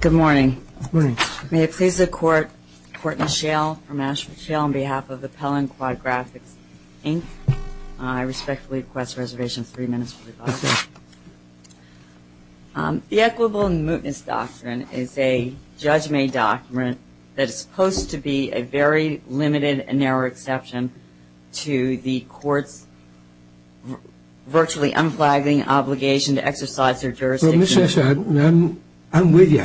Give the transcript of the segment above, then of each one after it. Good morning. May it please the court, Court Michelle, I'm Ashley Michelle on behalf of Appellant Quad Graphics, Inc. I respectfully request a reservation for three minutes. The equitable and mootness doctrine is a judgment document that is supposed to be a very limited and narrow exception to the court's virtually unflagging obligation to exercise their jurisdiction. I'm with you,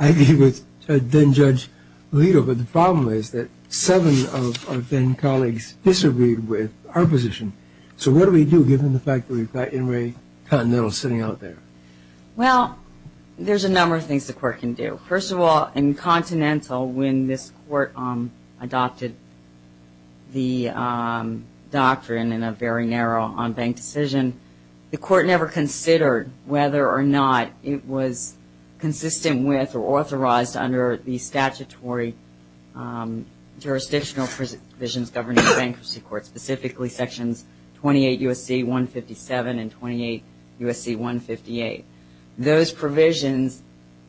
I agree with then-judge Lito, but the problem is that seven of our then-colleagues disagreed with our position. So what do we do given the fact that we've got Inre Continental sitting out there? Well, there's a number of things the court can do. First of all, in Continental, when this court adopted the doctrine in a very narrow on-bank decision, the court never considered whether or not it was consistent with or authorized under the statutory jurisdictional provisions governing the bankruptcy court, specifically Sections 28 U.S.C. 157 and 28 U.S.C. 158. Those provisions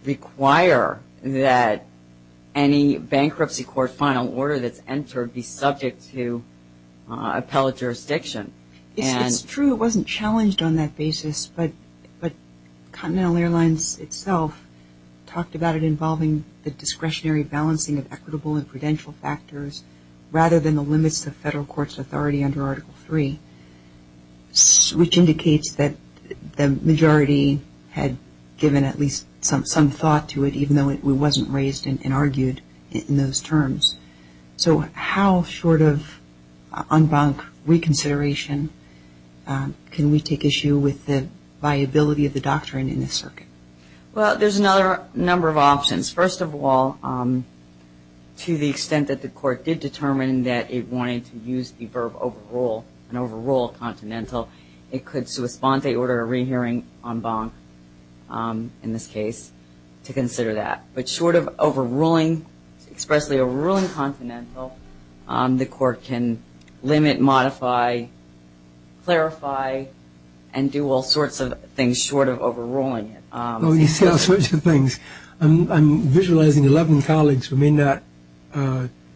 require that any bankruptcy court final order that's entered be subject to appellate jurisdiction. It's true it wasn't challenged on that basis, but Continental Airlines itself talked about it involving the discretionary balancing of equitable and prudential factors rather than the limits of federal court's authority under Article III, which indicates that the majority had given at least some thought to it, even though it wasn't raised and argued in those terms. So how short of on-bank reconsideration can we take issue with the viability of the doctrine in this circuit? Well, there's another number of options. First of all, to the extent that the court did determine that it wanted to use the verb overrule, and overrule Continental, it could sui fonte order a rehearing on-bank in this case to consider that. But short of overruling, especially a ruling Continental, the court can limit, modify, clarify, and do all sorts of things short of overruling it. Oh, you say all sorts of things. I'm visualizing 11 colleagues who may not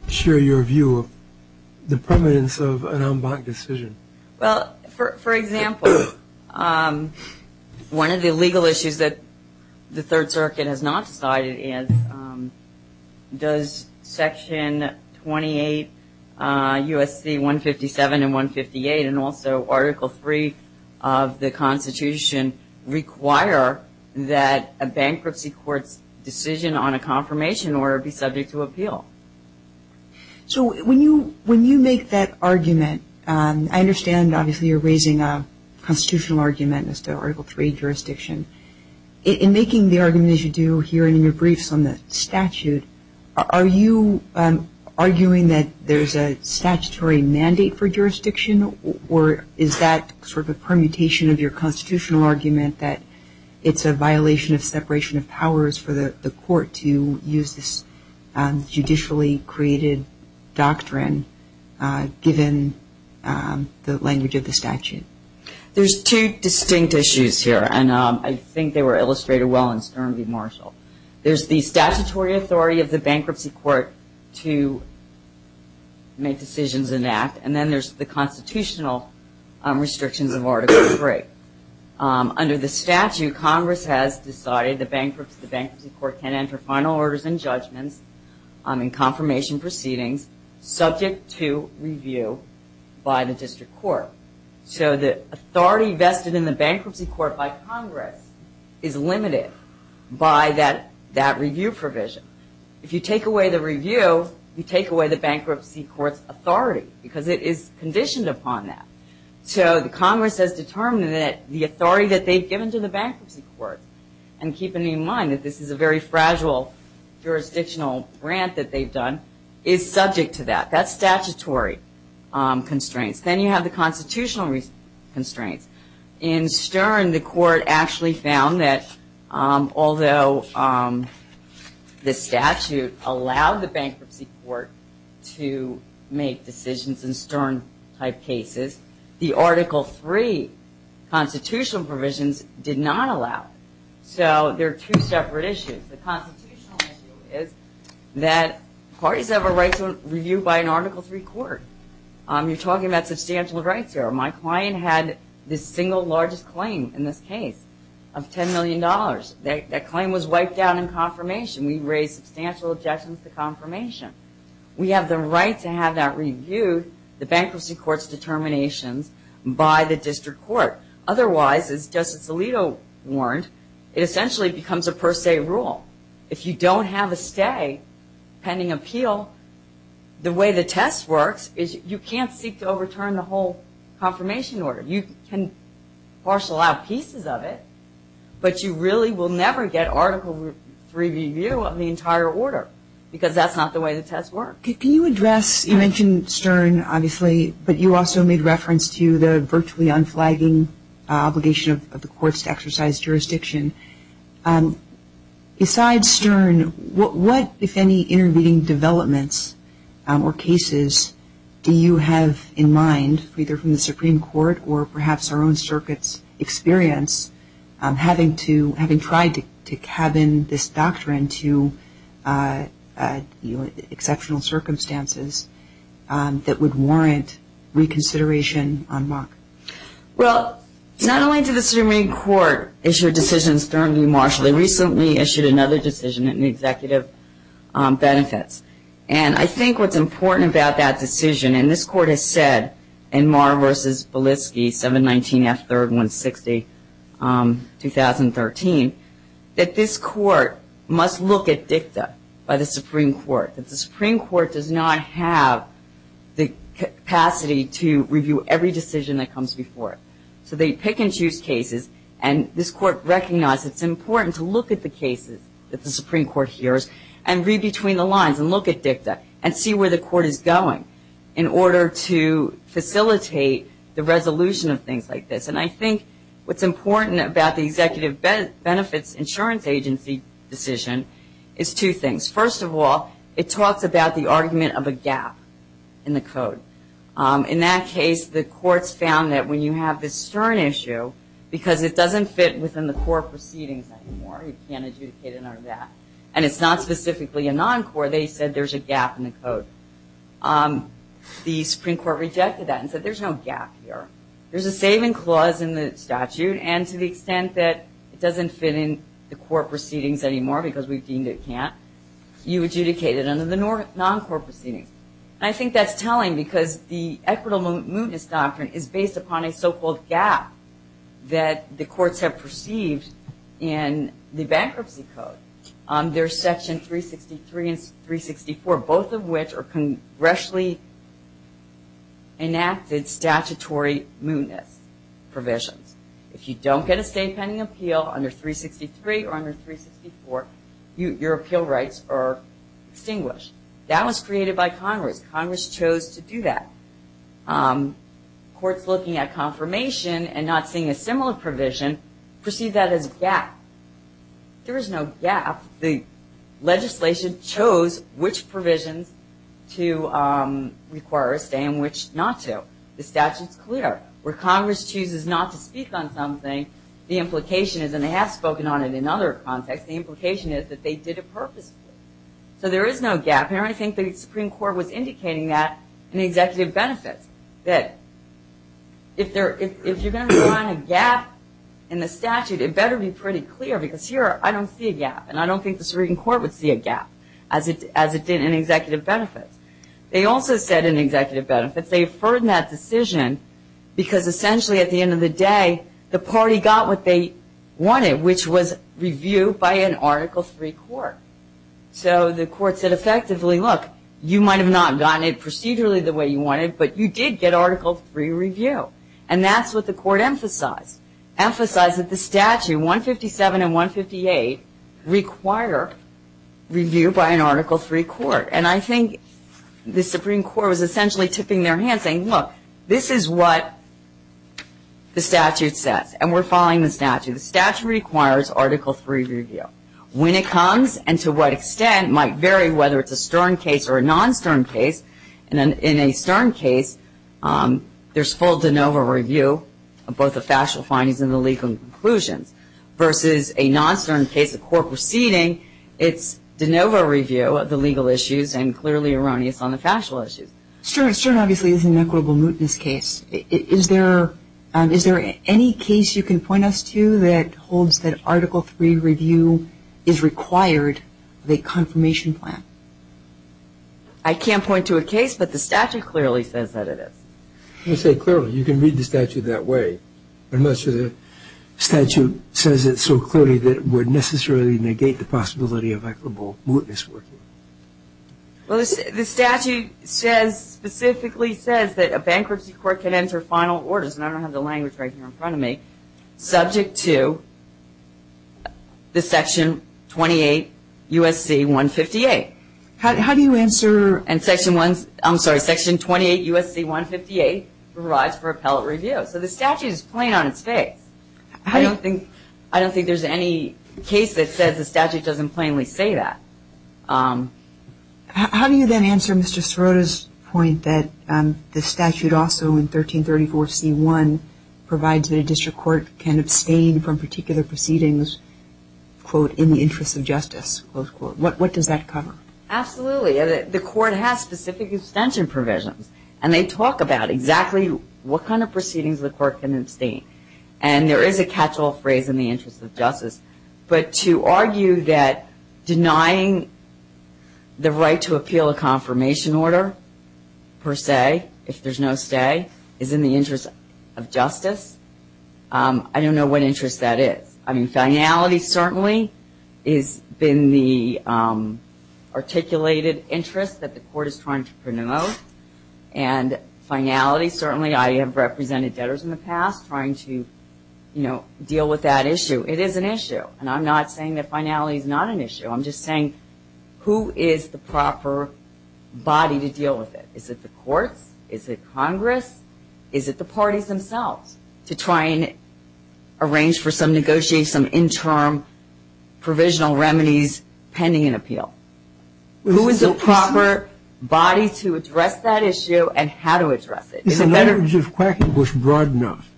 share your view of the permanence of an on-bank decision. Well, for example, one of the legal issues that the Third Circuit has not cited is does Section 28 U.S.C. 157 and 158, and also Article III of the Constitution, require that a bankruptcy court's decision on a confirmation order be subject to appeal? So when you make that argument, I understand obviously you're raising a constitutional argument as to Article III jurisdiction. In making the argument, as you do here in your briefs on the statute, are you arguing that there's a statutory mandate for jurisdiction, or is that sort of a permutation of your constitutional argument that it's a violation of separation of powers for the court to use this judicially created doctrine given the language of the statute? There's two distinct issues here, and I think they were illustrated well in Sturmey Marshall. There's the statutory authority of the bankruptcy court to make decisions and act, and then there's the constitutional restrictions of Article III. Under the statute, Congress has decided the bankruptcy court can enter final orders and judgments in confirmation proceedings subject to review by the district court. So the authority vested in the bankruptcy court by Congress is limited by that review provision. If you take away the review, you take away the bankruptcy court's authority because it is conditioned upon that. So the Congress has determined that the authority that they've given to the bankruptcy court, and keeping in mind that this is a very fragile jurisdictional grant that they've done, is subject to that. That's statutory constraints. Then you have the constitutional constraints. In Sturmey, the court actually found that although the statute allowed the bankruptcy court to make decisions in Sturmey-type cases, the Article III constitutional provisions did not allow it. So there are two separate issues. The constitutional issue is that parties have a right to review by an Article III court. You're talking about substantial rights there. My client had the single largest claim in this case of $10 million. That claim was wiped out in confirmation. We raised substantial objections to confirmation. We have the right to have that reviewed, the bankruptcy court's determination, by the district court. Otherwise, as Justice Alito warned, it essentially becomes a per se rule. If you don't have a stay pending appeal, the way the test works is you can't seek to overturn the whole confirmation order. You can parcel out pieces of it, but you really will never get Article III review of the entire order, because that's not the way the test works. Can you address, you mentioned Stern, obviously, but you also made reference to the virtually unflagging obligation of the courts to exercise jurisdiction. Besides Stern, what, if any, intervening developments or cases do you have in mind, either from the Supreme Court or perhaps our own circuit's experience, having tried to cabin this doctrine to exceptional circumstances that would warrant reconsideration on Muck? Well, not only did the Supreme Court issue a decision sternly in Marshall, they recently issued another decision in the Executive Benefits. And I think what's important about that decision, and this court has said in Marr v. Belitsky, 719S3-160, 2013, that this court must look at VISTA by the Supreme Court. The Supreme Court does not have the capacity to review every decision that comes before it. So they pick and choose cases, and this court recognizes it's important to look at the cases that the Supreme Court hears and read between the lines and look at VISTA and see where the court is going in order to facilitate the resolution of things like this. And I think what's important about the Executive Benefits Insurance Agency decision is two things. First of all, it talks about the argument of a gap in the code. In that case, the courts found that when you have this stern issue, because it doesn't fit within the core proceedings anymore, you can't adjudicate another gap, and it's not specifically a non-core, they said there's a gap in the code. The Supreme Court rejected that and said there's no gap here. There's a saving clause in the statute, and to the extent that it doesn't fit in the core proceedings anymore because we've deemed it can't, you adjudicate it under the non-core proceedings. I think that's telling because the equitable mootness doctrine is based upon a so-called gap that the courts have perceived in the bankruptcy code under Section 363 and 364, both of which are congressionally enacted statutory mootness provisions. If you don't get a state pending appeal under 363 or under 364, your appeal rights are distinguished. That was created by Congress. Congress chose to do that. Courts looking at confirmation and not seeing a similar provision perceived that as a gap. There is no gap. The legislation chose which provisions to require it and which not to. The statute's clear. Where Congress chooses not to speak on something, the implication is, and they have spoken on it in other contexts, the implication is that they did it purposely. So there is no gap, and I think the Supreme Court was indicating that in the executive benefit, that if you're going to find a gap in the statute, it better be pretty clear because here I don't see a gap, and I don't think the Supreme Court would see a gap as it did in the executive benefit. They also said in the executive benefit that they've heard in that decision because essentially at the end of the day, the party got what they wanted, which was review by an articles-free court. So the court said effectively, look, you might have not gotten it procedurally the way you wanted, but you did get articles-free review, and that's what the court emphasized, emphasized that the statute, 157 and 158, require review by an articles-free court, and I think the Supreme Court was essentially tipping their hand saying, look, this is what the statute says, and we're following the statute. The statute requires articles-free review. When it comes and to what extent might vary whether it's a CERN case or a non-CERN case, and in a CERN case, there's full de novo review of both the factual findings and the legal conclusions, versus a non-CERN case, the court proceeding, it's de novo review of the legal issues and clearly erroneous on the factual issues. Sure, and obviously this is an equitable mootness case. Is there any case you can point us to that holds that article-free review is required of a confirmation plan? I can't point to a case, but the statute clearly says that it is. I'm going to say clearly. You can read the statute that way. I'm not sure the statute says it so clearly that it would necessarily negate the possibility of equitable mootness. Well, the statute says, specifically says that a bankruptcy court can enter final orders, and I don't have the language right here in front of me, subject to the Section 28 U.S.C. 158. How do you answer? I'm sorry, Section 28 U.S.C. 158 provides for appellate review. So the statute is plain on its face. I don't think there's any case that says the statute doesn't plainly say that. How do you then answer Mr. Serota's point that the statute also in 1334 C.I. provides that a district court can abstain from particular proceedings, quote, in the interest of justice, close quote? What does that cover? Absolutely. The court has specific extension provisions, and they talk about exactly what kind of proceedings the court can abstain. And there is a catch-all phrase, in the interest of justice. But to argue that denying the right to appeal a confirmation order, per se, if there's no say, is in the interest of justice, I don't know what interest that is. I mean, finality, certainly, is in the articulated interest that the court is trying to promote. And finality, certainly, I have represented debtors in the past trying to, you know, deal with that issue. It is an issue. And I'm not saying that finality is not an issue. I'm just saying who is the proper body to deal with it? Is it the court? Is it Congress? Is it the parties themselves to try and arrange for some negotiation, interim provisional remedies pending an appeal? Who is the proper body to address that issue and how to address it? In other words, is Quackenbush broad enough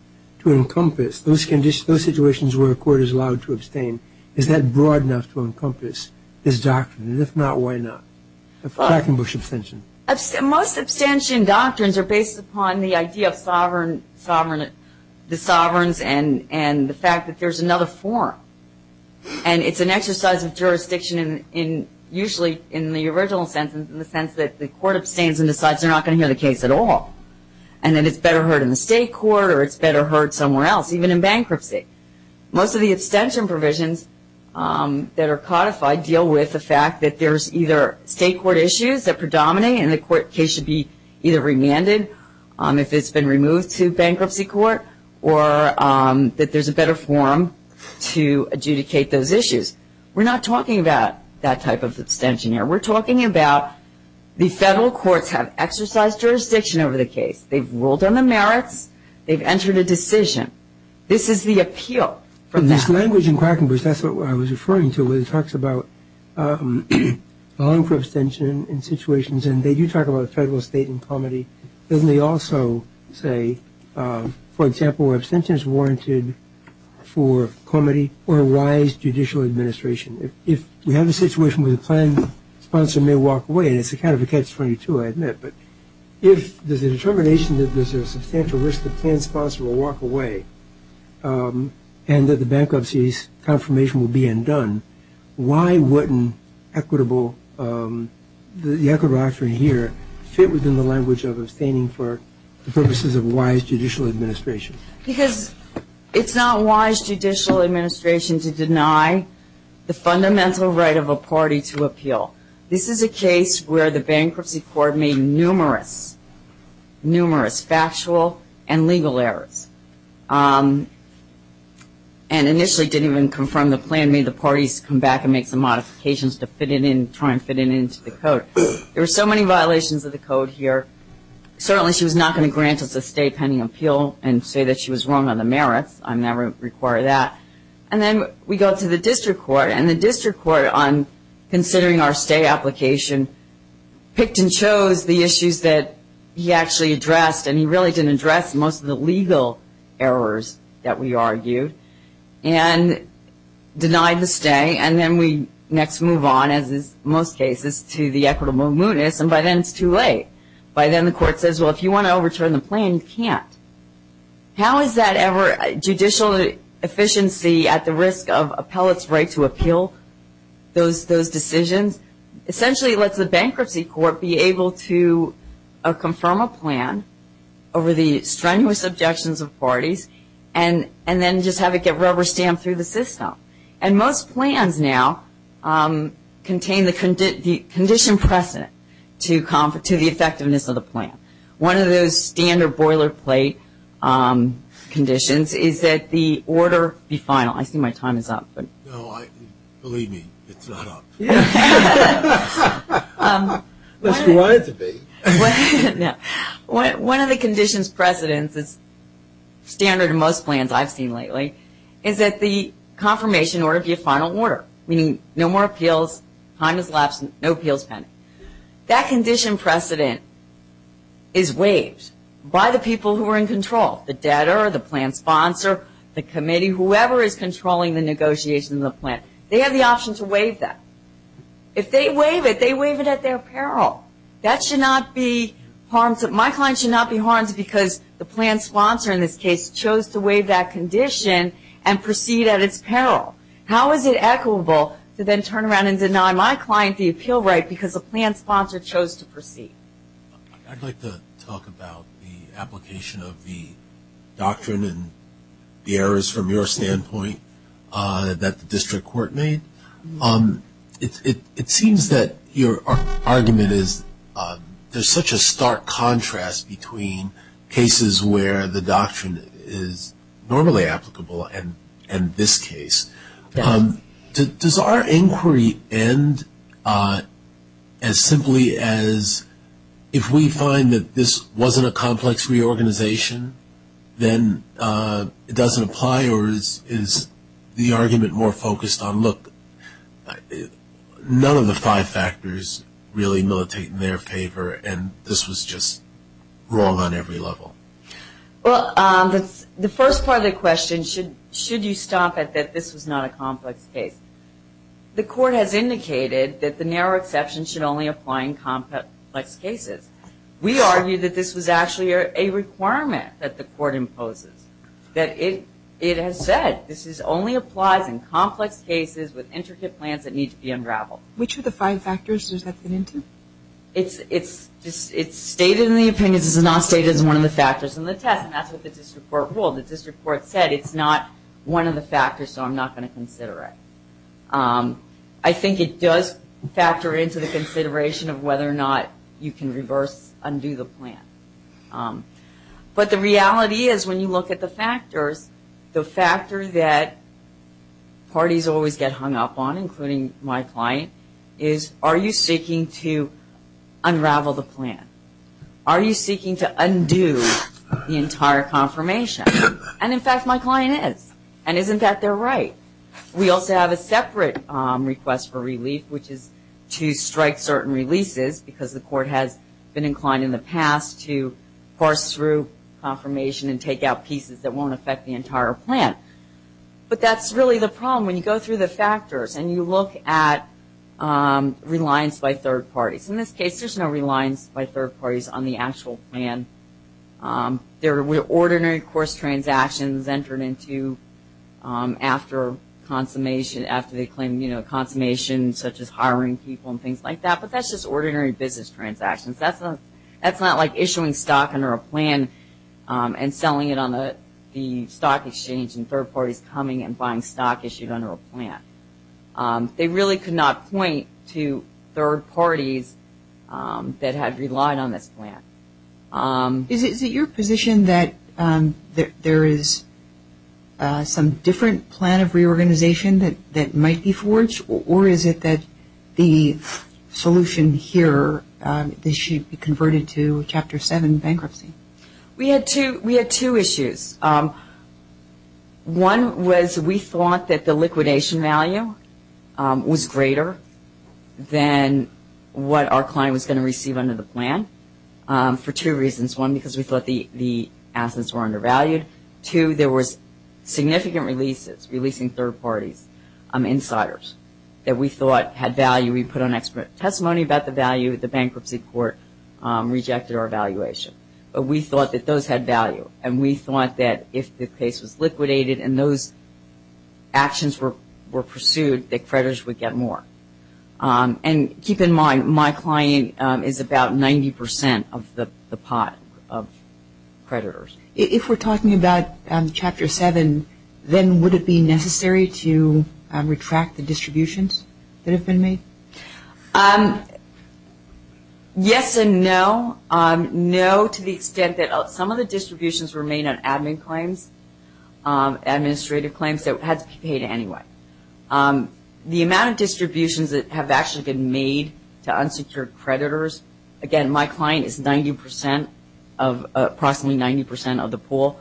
to encompass those situations where the court is allowed to abstain? Is that broad enough to encompass this doctrine? And if not, why not? Quackenbush abstention. Most abstention doctrines are based upon the idea of the sovereigns and the fact that there's another forum. And it's an exercise of jurisdiction in usually in the original sentence in the sense that the court abstains and decides they're not going to hear the case at all. And then it's better heard in the state court or it's better heard somewhere else, even in bankruptcy. Most of the abstention provisions that are codified deal with the fact that there's either state court issues that predominate and the court case should be either remanded if it's been removed to bankruptcy court or that there's a better forum to adjudicate those issues. We're not talking about that type of abstention here. We're talking about the federal courts have exercised jurisdiction over the case. They've ruled on the merits. They've entered a decision. This is the appeal from that. This language in Quackenbush, that's what I was referring to, where it talks about allowing for abstention in situations, and they do talk about federal, state, and comity. Then they also say, for example, abstention is warranted for comity or a rise judicial administration. If we have a situation where the planned sponsor may walk away, and it's kind of a catch-22, I admit, but if there's a determination that there's a substantial risk the planned sponsor will walk away and that the bankruptcy confirmation will be undone, why wouldn't equitable action here fit within the language of abstaining for the purposes of wise judicial administration? Because it's not wise judicial administration to deny the fundamental right of a party to appeal. This is a case where the bankruptcy court made numerous, numerous factual and legal errors and initially didn't even confirm the plan, made the parties come back and make the modifications to fit it in, try and fit it into the code. There were so many violations of the code here. Certainly she's not going to grant us a state pending appeal and say that she was wrong on the merits. I never require that. And then we go to the district court, and the district court, on considering our stay application, picked and chose the issues that he actually addressed, and he really didn't address most of the legal errors that we argued, and denied the stay. And then we next move on, as in most cases, to the equitable mootness, and by then it's too late. By then the court says, well, if you want to overturn the plan, you can't. How is that ever judicial efficiency at the risk of appellate's right to appeal those decisions? Essentially it lets the bankruptcy court be able to confirm a plan over the strenuous objections of parties and then just have it get rubber-stamped through the system. And most plans now contain the condition precedent to the effectiveness of the plan. One of those standard boilerplate conditions is that the order be final. I think my time is up. No, believe me, it's not up. Unless you want it to be. No. One of the conditions precedents is standard in most plans I've seen lately, is that the confirmation order be a final order, meaning no more appeals, time has elapsed, no appeals pending. That condition precedent is waived by the people who are in control, the debtor, the plan sponsor, the committee, whoever is controlling the negotiation of the plan. They have the option to waive that. If they waive it, they waive it at their peril. That should not be harmful. My client should not be harmed because the plan sponsor in this case chose to waive that condition and proceed at its peril. How is it equitable to then turn around and deny my client the appeal right because the plan sponsor chose to proceed? I'd like to talk about the application of the doctrine and the errors from your standpoint that the district court made. It seems that your argument is there's such a stark contrast between cases where the doctrine is normally applicable and this case. Does our inquiry end as simply as if we find that this wasn't a complex reorganization, then it doesn't apply, or is the argument more focused on, look, none of the five factors really militate in their favor, and this was just wrong on every level? Well, the first part of the question, should you stop at that this was not a complex case? The court has indicated that the narrow exception should only apply in complex cases. We argue that this was actually a requirement that the court imposes, that it has said this only applies in complex cases with intricate plans that need to be unraveled. Which of the five factors does that fit into? It's stated in the opinions. It's not stated as one of the factors in the test, and that's what the district court ruled. The district court said it's not one of the factors, so I'm not going to consider it. I think it does factor into the consideration of whether or not you can reverse undo the plan. But the reality is when you look at the factors, the factors that parties always get hung up on, including my client, is are you seeking to unravel the plan? Are you seeking to undo the entire confirmation? And, in fact, my client is, and isn't that their right? We also have a separate request for relief, which is to strike certain releases, because the court has been inclined in the past to parse through confirmation and take out pieces that won't affect the entire plan. But that's really the problem. When you go through the factors and you look at reliance by third parties, in this case there's no reliance by third parties on the actual plan. There were ordinary course transactions entered into after they claimed confirmation, such as hiring people and things like that, but that's just ordinary business transactions. That's not like issuing stock under a plan and selling it on the stock exchange and third parties coming and buying stock issued under a plan. They really could not point to third parties that had relied on this plan. Is it your position that there is some different plan of reorganization that might be forged, or is it that the solution here should be converted to Chapter 7 bankruptcy? We had two issues. One was we thought that the liquidation value was greater than what our client was going to receive under the plan, for two reasons. One, because we thought the assets were undervalued. Two, there were significant releases, releasing third parties, insiders, that we thought had value. We put on expert testimony about the value. The bankruptcy court rejected our evaluation. We thought that those had value, and we thought that if the case was liquidated and those actions were pursued, that creditors would get more. And keep in mind, my client is about 90% of the pot of creditors. If we're talking about Chapter 7, then would it be necessary to retract the distributions that have been made? Yes and no. No to the extent that some of the distributions were made on admin claims, administrative claims, so it had to be paid anyway. The amount of distributions that have actually been made to unsecured creditors, again, my client is approximately 90% of the pool,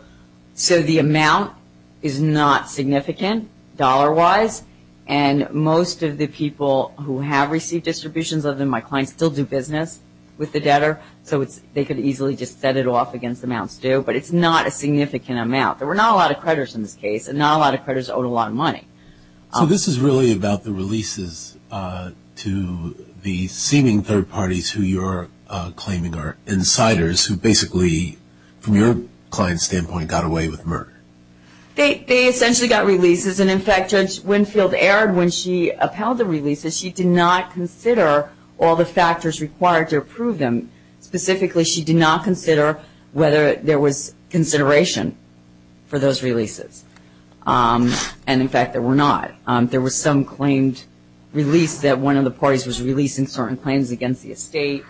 so the amount is not significant dollar-wise, and most of the people who have received distributions, other than my client, still do business with the debtor, so they could easily just set it off against amounts due, but it's not a significant amount. There were not a lot of creditors in this case, and not a lot of creditors owed a lot of money. This is really about the releases to the seeming third parties who you're claiming are insiders, who basically, from your client's standpoint, got away with murder. They essentially got releases, and, in fact, Judge Winfield erred when she upheld the releases. She did not consider all the factors required to approve them. Specifically, she did not consider whether there was consideration for those releases, and, in fact, there were not. There were some claims released that one of the parties was releasing certain claims against the estate,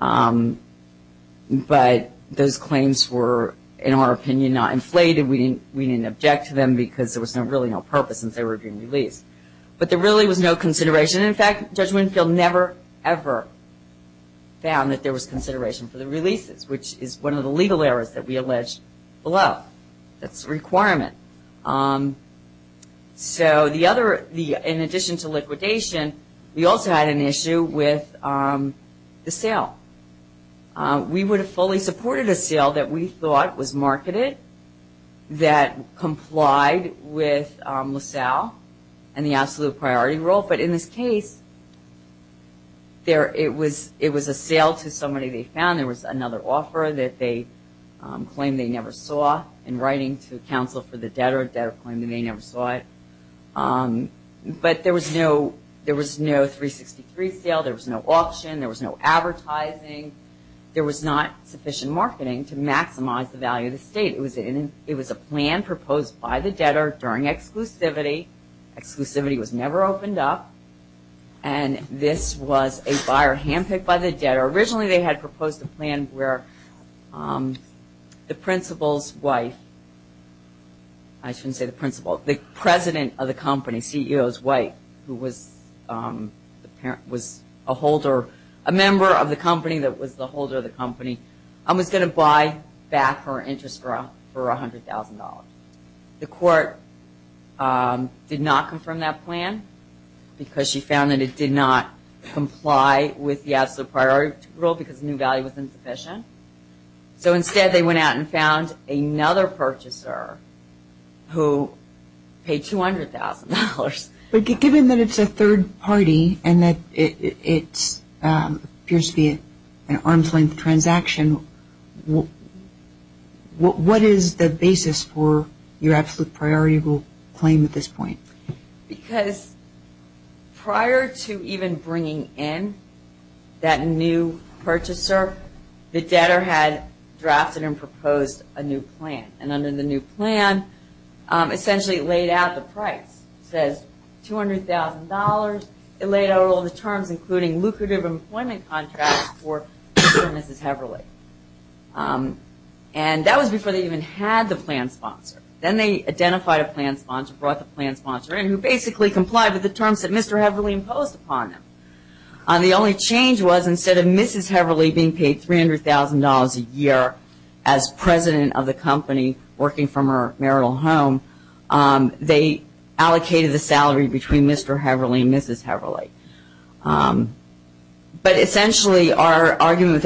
but those claims were, in our opinion, not inflated. We didn't object to them because there was really no purpose since they were being released, but there really was no consideration. In fact, Judge Winfield never, ever found that there was consideration for the releases, which is one of the legal errors that we alleged below. That's a requirement. In addition to liquidation, we also had an issue with the sale. We would have fully supported a sale that we thought was marketed, that complied with LaSalle and the absolute priority rule, but, in this case, it was a sale to somebody they found. There was another offer that they claimed they never saw. In writing to counsel for the debtor, the debtor claimed that they never saw it, but there was no 363 sale. There was no auction. There was no advertising. There was not sufficient marketing to maximize the value of the estate. It was a plan proposed by the debtor during exclusivity. Exclusivity was never opened up, and this was a buyer handpicked by the debtor. Originally, they had proposed a plan where the principal's wife, I shouldn't say the principal, the president of the company, CEO's wife, who was a member of the company that was the holder of the company, was going to buy back her interest for $100,000. The court did not confirm that plan because she found that it did not comply with the absolute priority rule because the new value was insufficient. So, instead, they went out and found another purchaser who paid $200,000. But given that it's a third party and that it appears to be an arm's length transaction, what is the basis for your absolute priority rule claim at this point? Because prior to even bringing in that new purchaser, the debtor had drafted and proposed a new plan, and under the new plan, essentially, it laid out the price. It says $200,000. It laid out all the terms, including lucrative employment contracts for Mrs. Heverly. And that was before they even had the plan sponsor. Then they identified a plan sponsor, brought the plan sponsor in, who basically complied with the terms that Mr. Heverly imposed upon him. The only change was instead of Mrs. Heverly being paid $300,000 a year as president of the company working from her marital home, they allocated a salary between Mr. Heverly and Mrs. Heverly. But essentially, our argument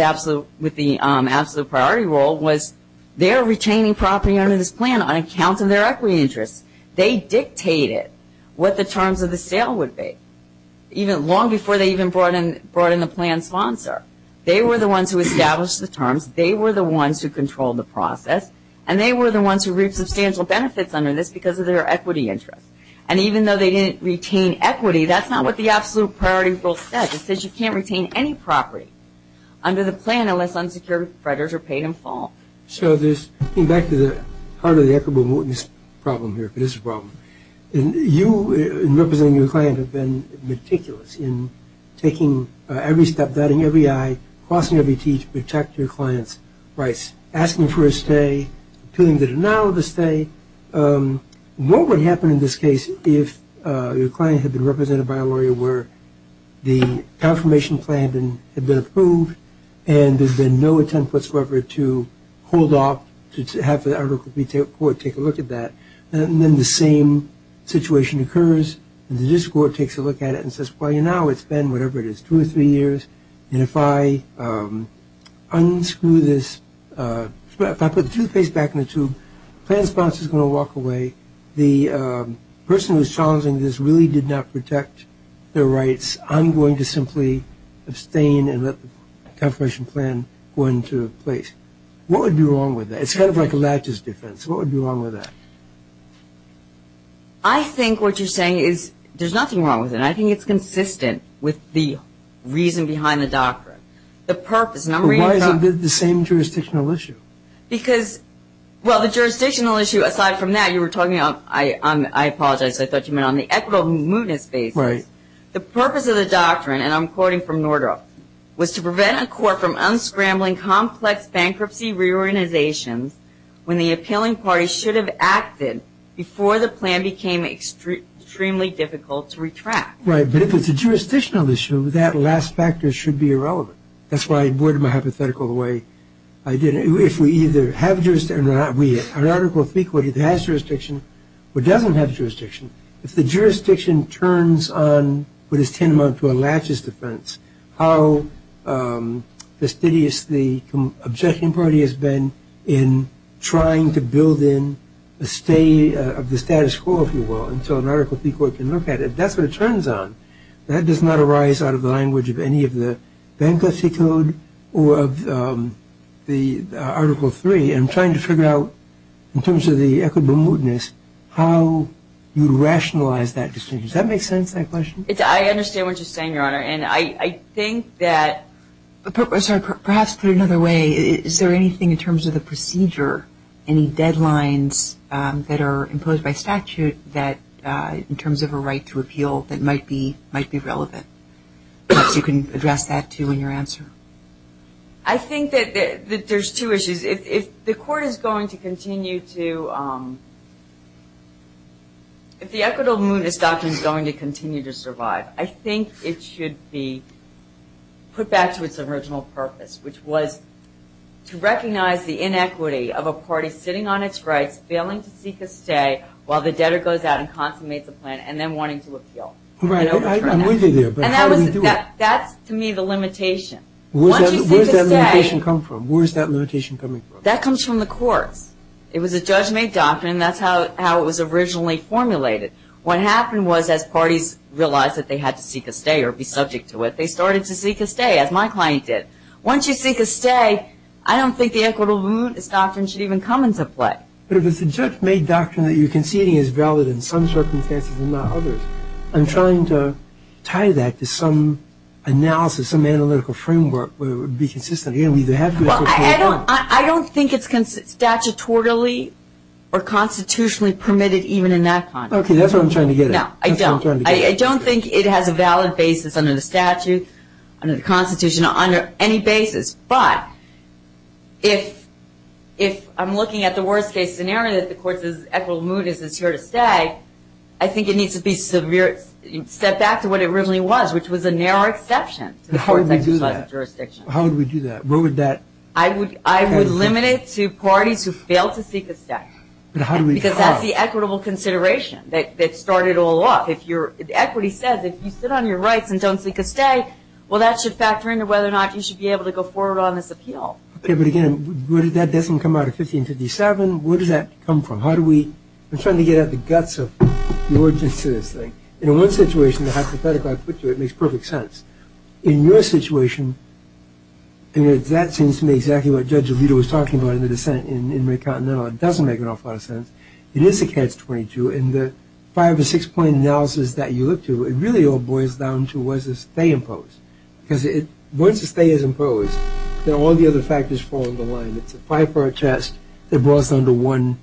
with the absolute priority rule was they're retaining property under this plan on account of their equity interest. They dictated what the terms of the sale would be. Long before they even brought in the plan sponsor. They were the ones who established the terms. They were the ones who controlled the process. And they were the ones who reaped substantial benefits under this because of their equity interest. And even though they didn't retain equity, that's not what the absolute priority rule said. It said you can't retain any property under the plan unless unsecured creditors are paid in full. So, going back to this problem here, you, representing your client, have been meticulous in taking every step, dotting every I, crossing every T to protect your client's rights, asking for a stay, doing the denial of a stay. What would happen in this case if your client had been represented by a lawyer where the confirmation plan had been approved and there's been no attempt whatsoever to hold off, to have the article be taken forward, take a look at that, and then the same situation occurs and the district court takes a look at it and says, well, you know, it's been whatever it is, two or three years, and if I unscrew this, if I put the toothpaste back in the tube, the plan sponsor's going to walk away. The person who's challenging this really did not protect their rights. I'm going to simply abstain and let the confirmation plan go into place. What would be wrong with that? It sounds like a latches defense. What would be wrong with that? I think what you're saying is there's nothing wrong with it. I think it's consistent with the reason behind the doctrine, the purpose. Why is it the same jurisdictional issue? Because, well, the jurisdictional issue, aside from that, you were talking about, I apologize, I thought you meant on the equitable movement basis. Right. The purpose of the doctrine, and I'm quoting from Nordrup, was to prevent a court from unscrambling complex bankruptcy reorganizations when the appealing party should have acted before the plan became extremely difficult to retract. Right. But if it's a jurisdictional issue, that last factor should be irrelevant. That's why I worded my hypothetical the way I did it. If we either have jurisdiction or not, we have an article of equity that has jurisdiction or doesn't have jurisdiction. If the jurisdiction turns on what is tantamount to a latches defense, how fastidious the objection party has been in trying to build in a stay of the status quo, if you will, and so an Article III court can look at it, that's what it turns on. That does not arise out of the language of any of the bankruptcy code or of the Article III. I'm trying to figure out, in terms of the equitable mootness, how you rationalize that decision. Does that make sense, that question? I understand what you're saying, Your Honor. And I think that perhaps put another way, is there anything in terms of the procedure, any deadlines that are imposed by statute in terms of a right to appeal that might be relevant? Perhaps you can address that, too, in your answer. I think that there's two issues. If the court is going to continue to, if the equitable mootness doctrine is going to continue to survive, I think it should be put back to its original purpose, which was to recognize the inequity of a party sitting on its rights, failing to seek a stay while the debtor goes out and consummates the plan, and then wanting to appeal. Right, I'm with you there, but how do we do it? That's, to me, the limitation. Where does that limitation come from? That comes from the court. It was a judge-made doctrine, and that's how it was originally formulated. What happened was, as parties realized that they had to seek a stay or be subject to it, they started to seek a stay, as my client did. Once you seek a stay, I don't think the equitable mootness doctrine should even come into play. But if it's a judge-made doctrine that you're conceding is valid in some circumstances and not others, I'm trying to tie that to some analysis, some analytical framework where it would be consistent. I don't think it's statutorily or constitutionally permitted even in that context. Okay, that's what I'm trying to get at. I don't think it has a valid basis under the statute, under the Constitution, under any basis. But if I'm looking at the worst-case scenario that the court's equitable mootness is here to stay, I think it needs to be set back to what it originally was, which was a narrow exception. How would we do that? How would we do that? I would limit it to parties who fail to seek a stay. Because that's the equitable consideration that started it all off. Equity says if you sit on your rights and don't seek a stay, well, that should factor into whether or not you should be able to go forward on this appeal. Okay, but, again, that doesn't come out of 1557. Where does that come from? I'm trying to get at the guts of the origins to this thing. In one situation, the hypothetical I put there, it makes perfect sense. In your situation, that seems to me exactly what Judge Alito was talking about in the dissent in McContinental. It doesn't make an awful lot of sense. It is a catch-22, and the five- or six-point analysis that you look to, it really all boils down to was this stay imposed? Because once a stay is imposed, then all the other factors fall into line. It's a five-part test that boils down to one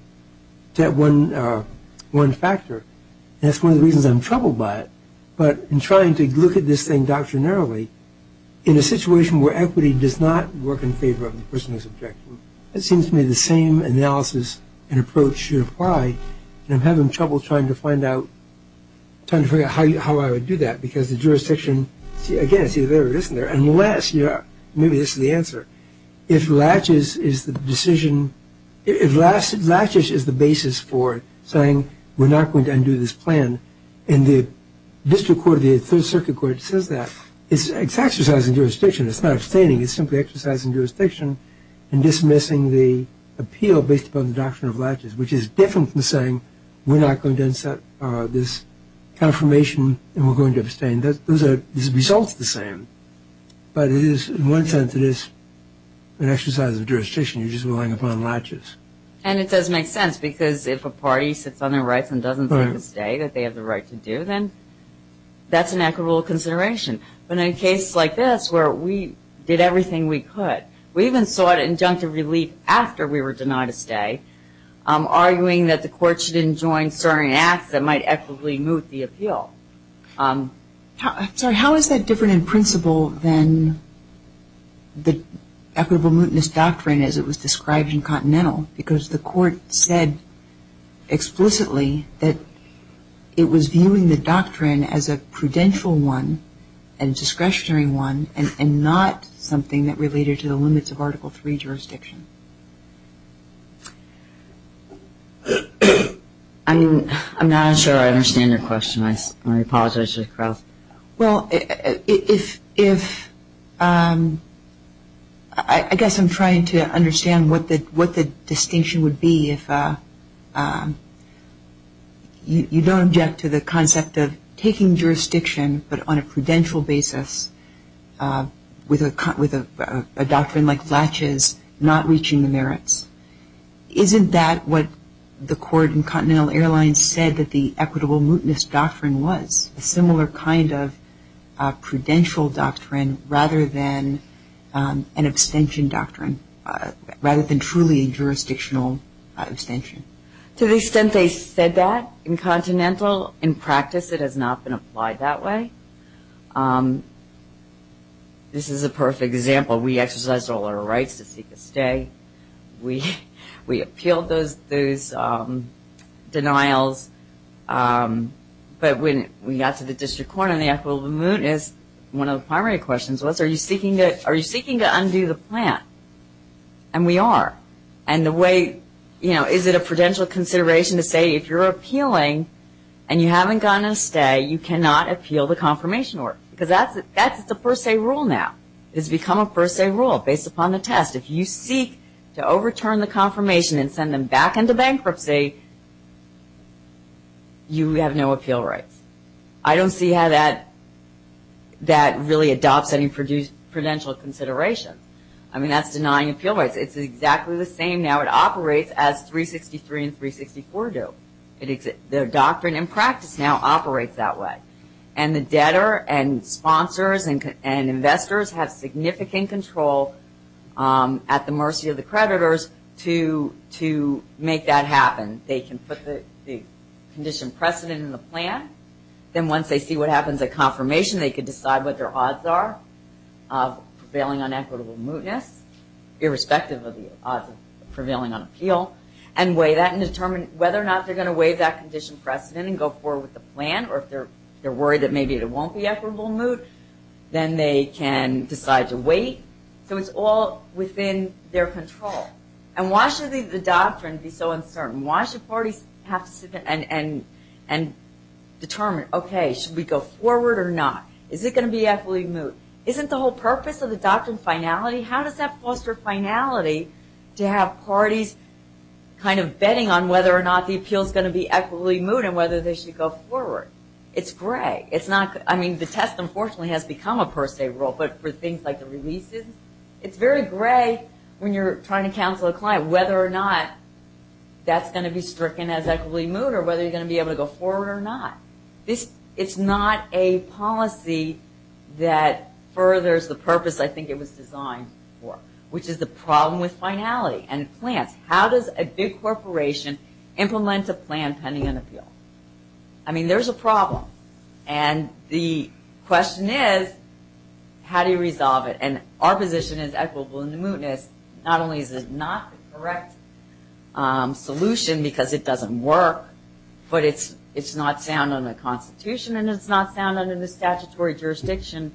factor. That's one of the reasons I'm troubled by it. But in trying to look at this thing doctrinarily, in a situation where equity does not work in favor of the person who's objecting, it seems to me the same analysis and approach should apply, and I'm having trouble trying to figure out how I would do that. Because the jurisdiction, again, it's either there or it isn't there. And the latch, maybe this is the answer. If latches is the basis for saying we're not going to undo this plan, and the district court or the third circuit court says that, it's exercising jurisdiction. It's not abstaining. It's simply exercising jurisdiction and dismissing the appeal based upon the doctrine of latches, which is different from saying we're not going to accept this confirmation and we're going to abstain. Those results are the same. But in one sense, it is an exercise of jurisdiction. You're just relying upon latches. And it doesn't make sense, because if a party sits on their rights and doesn't take a stay that they have the right to do, then that's an equitable consideration. But in a case like this, where we did everything we could, we even sought injunctive relief after we were denied a stay, arguing that the court should enjoin certain acts that might equitably move the appeal. How is that different in principle than the equitable mootness doctrine as it was described in Continental? Because the court said explicitly that it was viewing the doctrine as a prudential one and discretionary one and not something that related to the limits of Article III jurisdiction. I'm not sure I understand your question. I'm going to pause. I just froze. Well, I guess I'm trying to understand what the distinction would be if you don't object to the concept of taking jurisdiction, but on a prudential basis with a doctrine like latches not reaching the merits. Isn't that what the court in Continental Airlines said that the equitable mootness doctrine was, a similar kind of prudential doctrine rather than an abstention doctrine, rather than truly a jurisdictional abstention? To the extent they said that in Continental, in practice it has not been applied that way. This is a perfect example. We exercised all our rights to seek a stay. We appealed those denials, but when we got to the district court on the equitable mootness, one of the primary questions was, are you seeking to undo the plan? And we are. And the way, you know, is it a prudential consideration to say if you're appealing and you haven't gotten a stay, you cannot appeal the confirmation order. Because that's the first day rule now. It's become a first day rule based upon the test. If you seek to overturn the confirmation and send them back into bankruptcy, you have no appeal right. I don't see how that really adopts any prudential consideration. I mean, that's denying appeal rights. It's exactly the same now. It operates as 363 and 364 do. The doctrine in practice now operates that way. And the debtor and sponsors and investors have significant control at the mercy of the creditors to make that happen. They can put the condition precedent in the plan. Then once they see what happens at confirmation, they can decide what their odds are of prevailing on equitable mootness, irrespective of the odds of prevailing on appeal, and weigh that and determine whether or not they're going to weigh that condition precedent and go forward with the plan. Or if they're worried that maybe there won't be equitable moot, then they can decide to wait. So it's all within their control. And why should the doctrine be so uncertain? Why should parties have to sit and determine, okay, should we go forward or not? Is it going to be equitably moot? Isn't the whole purpose of the doctrine finality? I mean, how does that foster finality to have parties kind of betting on whether or not the appeal is going to be equitably moot and whether they should go forward? It's gray. I mean, the test, unfortunately, has become a per se rule, but for things like the releases, it's very gray when you're trying to counsel a client whether or not that's going to be stricken as equitably moot or whether you're going to be able to go forward or not. It's not a policy that furthers the purpose I think it was designed for, which is the problem with finality and plans. How does a big corporation implement a plan pending an appeal? I mean, there's a problem. And the question is, how do you resolve it? And our position is equitable mootness. Not only is it not the correct solution because it doesn't work, but it's not found in the Constitution and it's not found in the statutory jurisdiction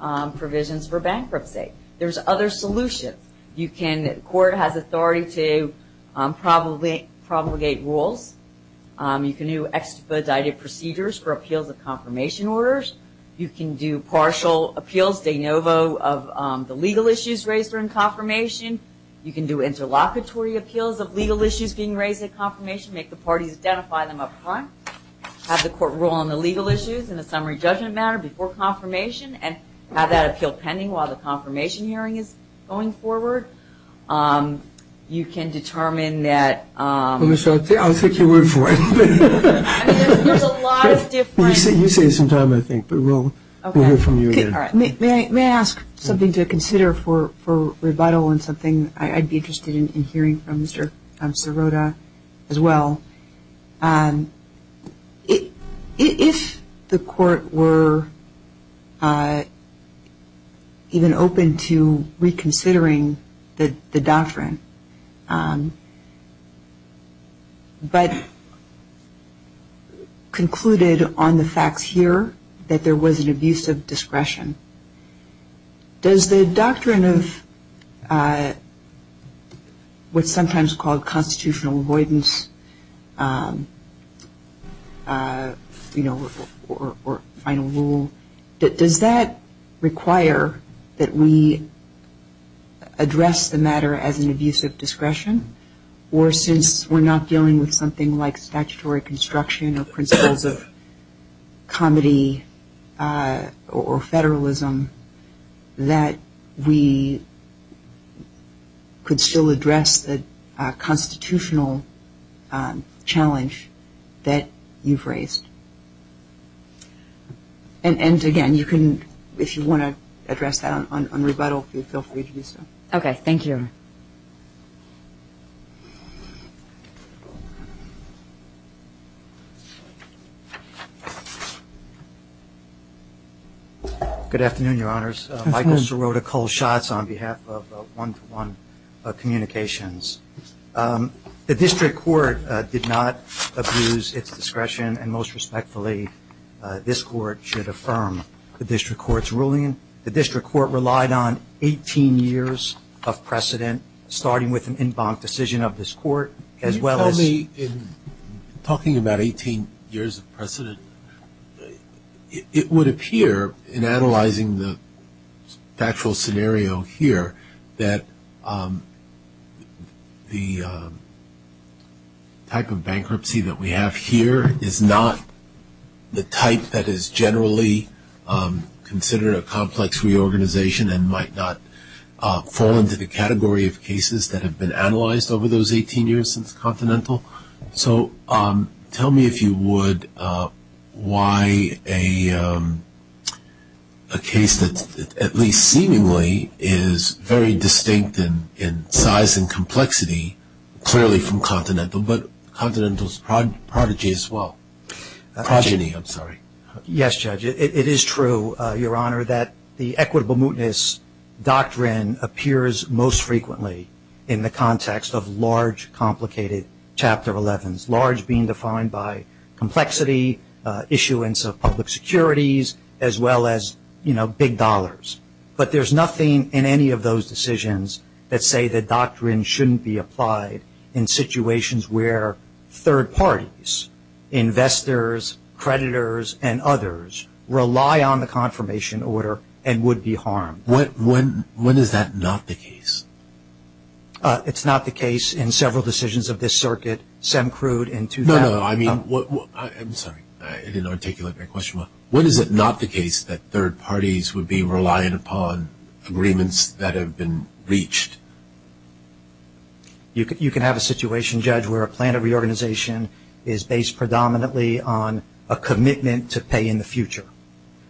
provisions for bankruptcy. There's other solutions. You can, the court has authority to promulgate rules. You can do expedited procedures for appeals of confirmation orders. You can do partial appeals, de novo, of the legal issues raised during confirmation. You can do interlocutory appeals of legal issues being raised at confirmation, make the parties identify them up front, have the court rule on the legal issues and the summary judgment matter before confirmation and have that appeal pending while the confirmation hearing is going forward. You can determine that- Let me start. I'll take your word for it. There's a lot of different- You say it sometime I think, but we'll hear from you again. May I ask something to consider for rebuttal and something I'd be interested in hearing from Mr. Sirota as well. If the court were even open to reconsidering the doctrine but concluded on the fact here that there was an abuse of discretion, does the doctrine of what's sometimes called constitutional avoidance or final rule, does that require that we address the matter as an abuse of discretion or since we're not dealing with something like statutory construction or principles of comedy or federalism, that we could still address the constitutional challenge that you've raised? And again, if you want to address that on rebuttal, feel free to do so. Okay, thank you. Good afternoon, Your Honors. Michael Sirota calls shots on behalf of One for One Communications. The district court did not abuse its discretion and most respectfully this court should affirm the district court's ruling. The district court relied on 18 years of precedent starting with an in-bond decision of this court as well as- 18 years of precedent. It would appear in analyzing the factual scenario here that the type of bankruptcy that we have here is not the type that is generally considered a complex reorganization and might not fall into the category of cases that have been analyzed over those 18 years since Continental. So tell me if you would why a case that at least seemingly is very distinct in size and complexity clearly from Continental, but Continental's prodigy as well. Progeny, I'm sorry. Yes, Judge. It is true, Your Honor, that the equitable mootness doctrine appears most frequently in the context of large, complicated Chapter 11s. Large being defined by complexity, issuance of public securities, as well as, you know, big dollars. But there's nothing in any of those decisions that say the doctrine shouldn't be applied in situations where third parties, investors, creditors, and others rely on the confirmation order and would be harmed. When is that not the case? It's not the case in several decisions of this circuit. No, no. I'm sorry. I didn't articulate my question well. When is it not the case that third parties would be relying upon agreements that have been reached? You can have a situation, Judge, where a plan of reorganization is based predominantly on a commitment to pay in the future,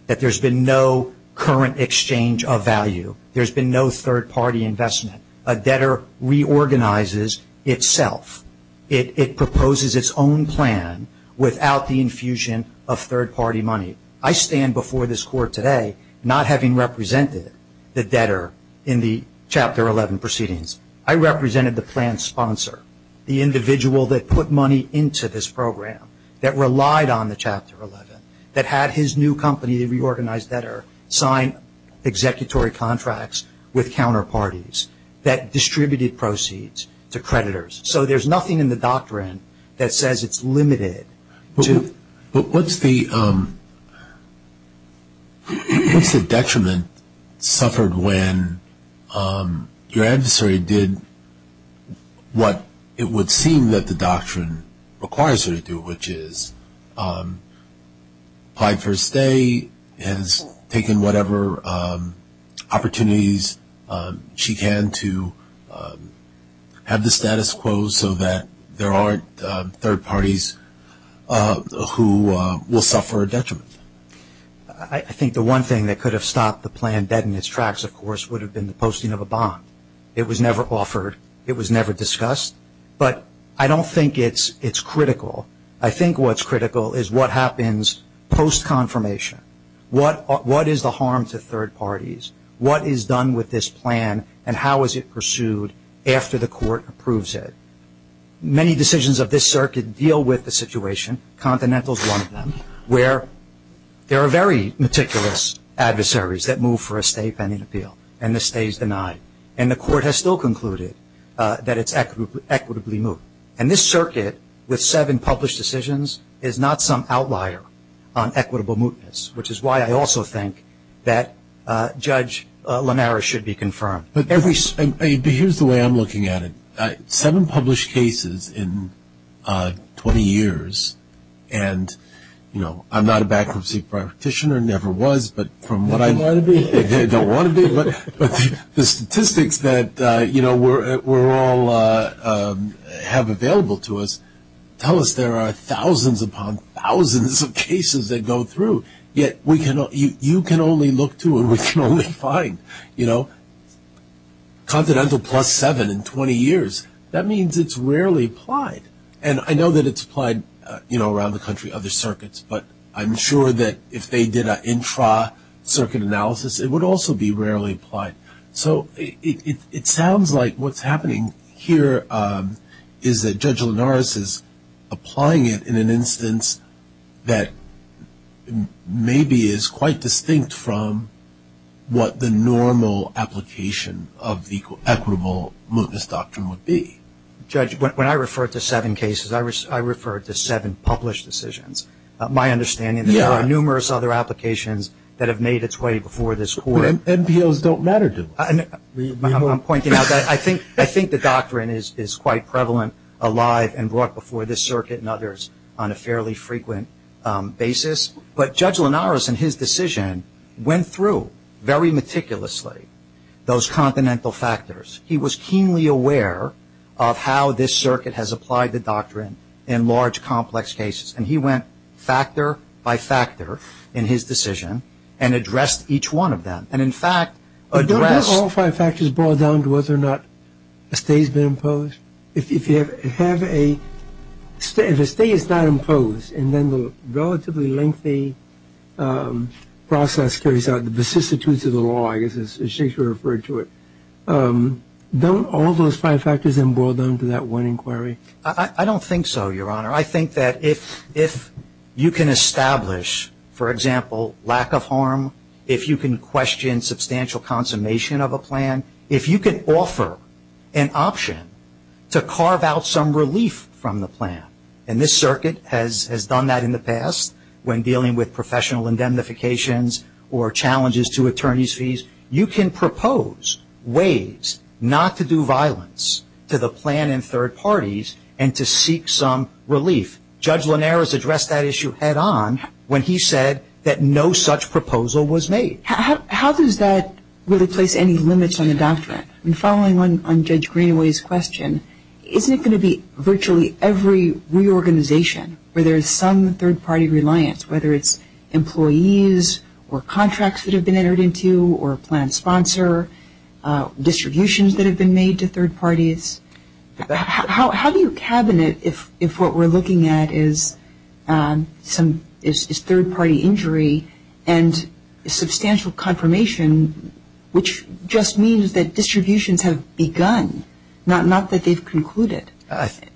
that there's been no current exchange of value. There's been no third-party investment. A debtor reorganizes itself. It proposes its own plan without the infusion of third-party money. I stand before this Court today not having represented the debtor in the Chapter 11 proceedings. I represented the plan sponsor, the individual that put money into this program, that relied on the Chapter 11, that had his new company, the reorganized debtor, sign executory contracts with counterparties that distributed proceeds to creditors. So there's nothing in the doctrine that says it's limited. But what's the detriment suffered when your adversary did what it would seem that the doctrine requires her to do, which is applied for a stay and has taken whatever opportunities she can to have the status quo so that there aren't third parties who will suffer a detriment? I think the one thing that could have stopped the plan dead in its tracks, of course, would have been the posting of a bond. It was never offered. It was never discussed. But I don't think it's critical. I think what's critical is what happens post-confirmation. What is the harm to third parties? What is done with this plan and how is it pursued after the court approves it? Many decisions of this circuit deal with the situation, Continental's one of them, where there are very meticulous adversaries that move for a stay if anything, and the stay is denied. And the court has still concluded that it's equitably moved. And this circuit, with seven published decisions, is not some outlier on equitable mootness, which is why I also think that Judge Lamarra should be confirmed. But here's the way I'm looking at it. Seven published cases in 20 years, and, you know, I'm not a bankruptcy practitioner, never was, but from what I know. You don't want to be. I don't want to be. But the statistics that, you know, we all have available to us tell us there are thousands upon thousands of cases that go through, yet you can only look to and we can only find, you know. Continental plus seven in 20 years, that means it's rarely applied. And I know that it's applied, you know, around the country, other circuits, but I'm sure that if they did an intra-circuit analysis, it would also be rarely applied. So it sounds like what's happening here is that Judge Linares is applying it in an instance that maybe is quite distinct from what the normal application of equitable mootness doctrine would be. Judge, when I refer to seven cases, I refer to seven published decisions. My understanding is there are numerous other applications that have made its way before this court. MPOs don't matter to them. I'm pointing out that I think the doctrine is quite prevalent, alive, and brought before this circuit and others on a fairly frequent basis. But Judge Linares in his decision went through very meticulously those continental factors. He was keenly aware of how this circuit has applied the doctrine in large, complex cases, and he went factor by factor in his decision and addressed each one of them. And, in fact, addressed- But don't all five factors boil down to whether or not a stay has been imposed? If you have a- if a stay is not imposed and then the relatively lengthy process turns out, as Shakespeare referred to it, don't all those five factors emboil them to that one inquiry? I don't think so, Your Honor. I think that if you can establish, for example, lack of harm, if you can question substantial consummation of a plan, if you can offer an option to carve out some relief from the plan, and this circuit has done that in the past when dealing with professional indemnifications or challenges to attorney's fees, you can propose ways not to do violence to the plan and third parties and to seek some relief. Judge Linares addressed that issue head-on when he said that no such proposal was made. How does that- would it place any limits on the doctrine? And following on Judge Greenaway's question, isn't it going to be virtually every reorganization where there is some third-party reliance, whether it's employees or contracts that have been entered into or a plan sponsor, distributions that have been made to third parties? How do you cabinet if what we're looking at is some- is third-party injury and substantial confirmation, which just means that distributions have begun, not that they've concluded?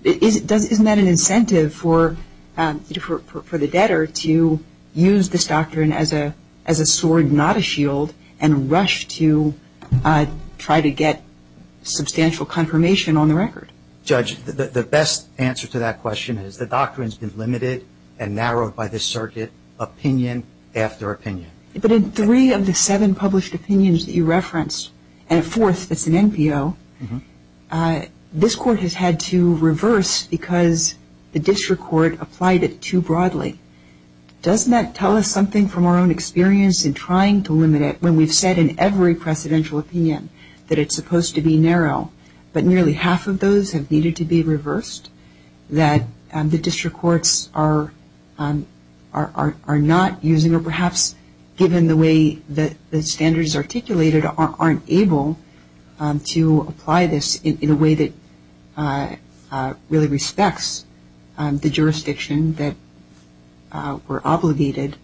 Isn't that an incentive for the debtor to use this doctrine as a sword, not a shield, and rush to try to get substantial confirmation on the record? Judge, the best answer to that question is the doctrine's been limited and narrowed by this circuit, opinion after opinion. But in three of the seven published opinions that you referenced, and a fourth that's an NPO, this court has had to reverse because the district court applied it too broadly. Doesn't that tell us something from our own experience in trying to limit it when we've said in every presidential opinion that it's supposed to be narrow, but nearly half of those have needed to be reversed, that the district courts are not using or perhaps, given the way that the standards articulated, aren't able to apply this in a way that really respects the jurisdiction that we're obligated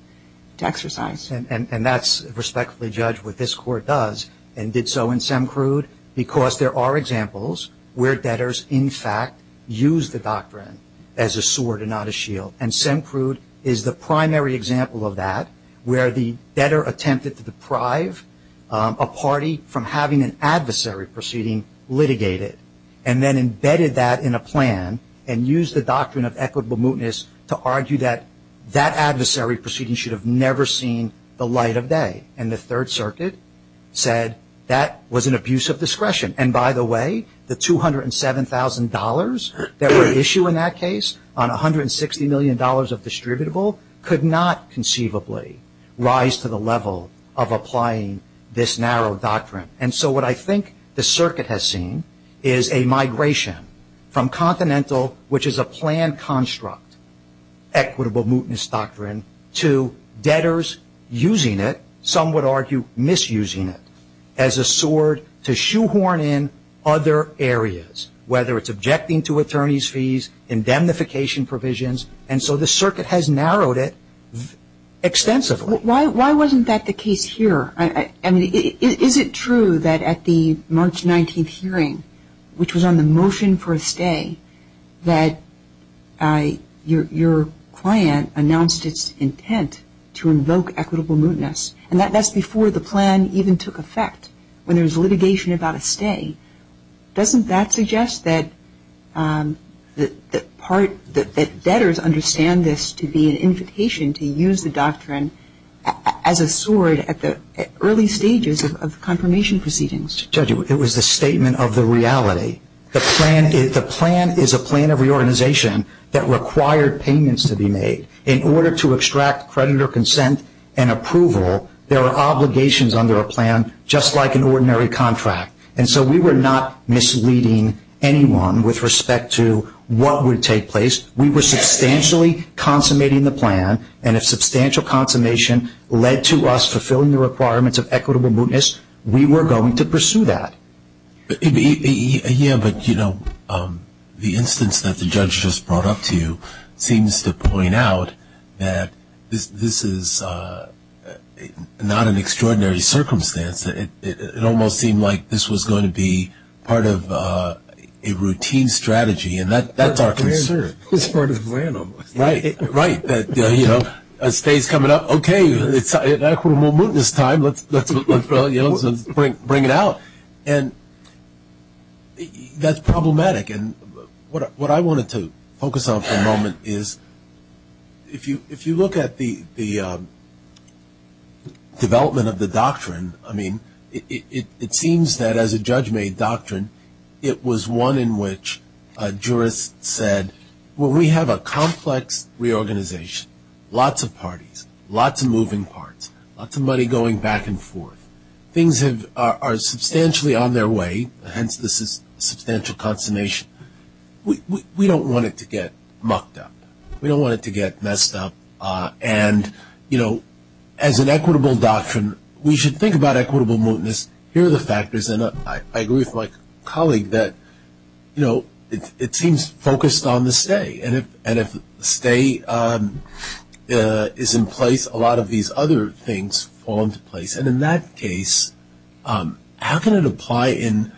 to exercise? And that's respectfully judged what this court does and did so in SEMCRUD because there are examples where debtors, in fact, use the doctrine as a sword and not a shield. And SEMCRUD is the primary example of that where the debtor attempted to deprive a party from having an adversary proceeding litigated and then embedded that in a plan and used the doctrine of equitable mootness to argue that that adversary proceeding should have never seen the light of day. And the Third Circuit said that was an abuse of discretion. And by the way, the $207,000 that were issued in that case on $160 million of distributable could not conceivably rise to the level of applying this narrow doctrine. And so what I think the circuit has seen is a migration from continental, which is a plan construct, equitable mootness doctrine, to debtors using it, some would argue misusing it, as a sword to shoehorn in other areas, whether it's objecting to attorney's fees, indemnification provisions. And so the circuit has narrowed it extensively. Why wasn't that the case here? Is it true that at the March 19th hearing, which was on the motion for a stay, that your client announced its intent to invoke equitable mootness? And that's before the plan even took effect, when there was litigation about a stay. Doesn't that suggest that debtors understand this to be an indication to use the doctrine as a sword at the early stages of confirmation proceedings? Judge, it was the statement of the reality. The plan is a plan of reorganization that required payments to be made. In order to extract creditor consent and approval, there are obligations under a plan, just like an ordinary contract. And so we were not misleading anyone with respect to what would take place. We were substantially consummating the plan, and a substantial consummation led to us fulfilling the requirements of equitable mootness. We were going to pursue that. Yeah, but, you know, the instance that the judge just brought up to you seems to point out that this is not an extraordinary circumstance. It almost seemed like this was going to be part of a routine strategy, and that's our concern. This part is random. Right, that, you know, a stay is coming up. Okay, it's equitable mootness time. Let's bring it out. And that's problematic. What I wanted to focus on for a moment is if you look at the development of the doctrine, I mean, it seems that as a judge-made doctrine, it was one in which a jurist said, well, we have a complex reorganization, lots of parties, lots of moving parts, lots of money going back and forth. Things are substantially on their way, hence the substantial consummation. We don't want it to get mucked up. We don't want it to get messed up. And, you know, as an equitable doctrine, we should think about equitable mootness. Here are the factors, and I agree with my colleague that, you know, it seems focused on the stay. And if the stay is in place, a lot of these other things fall into place. And in that case, how can it apply in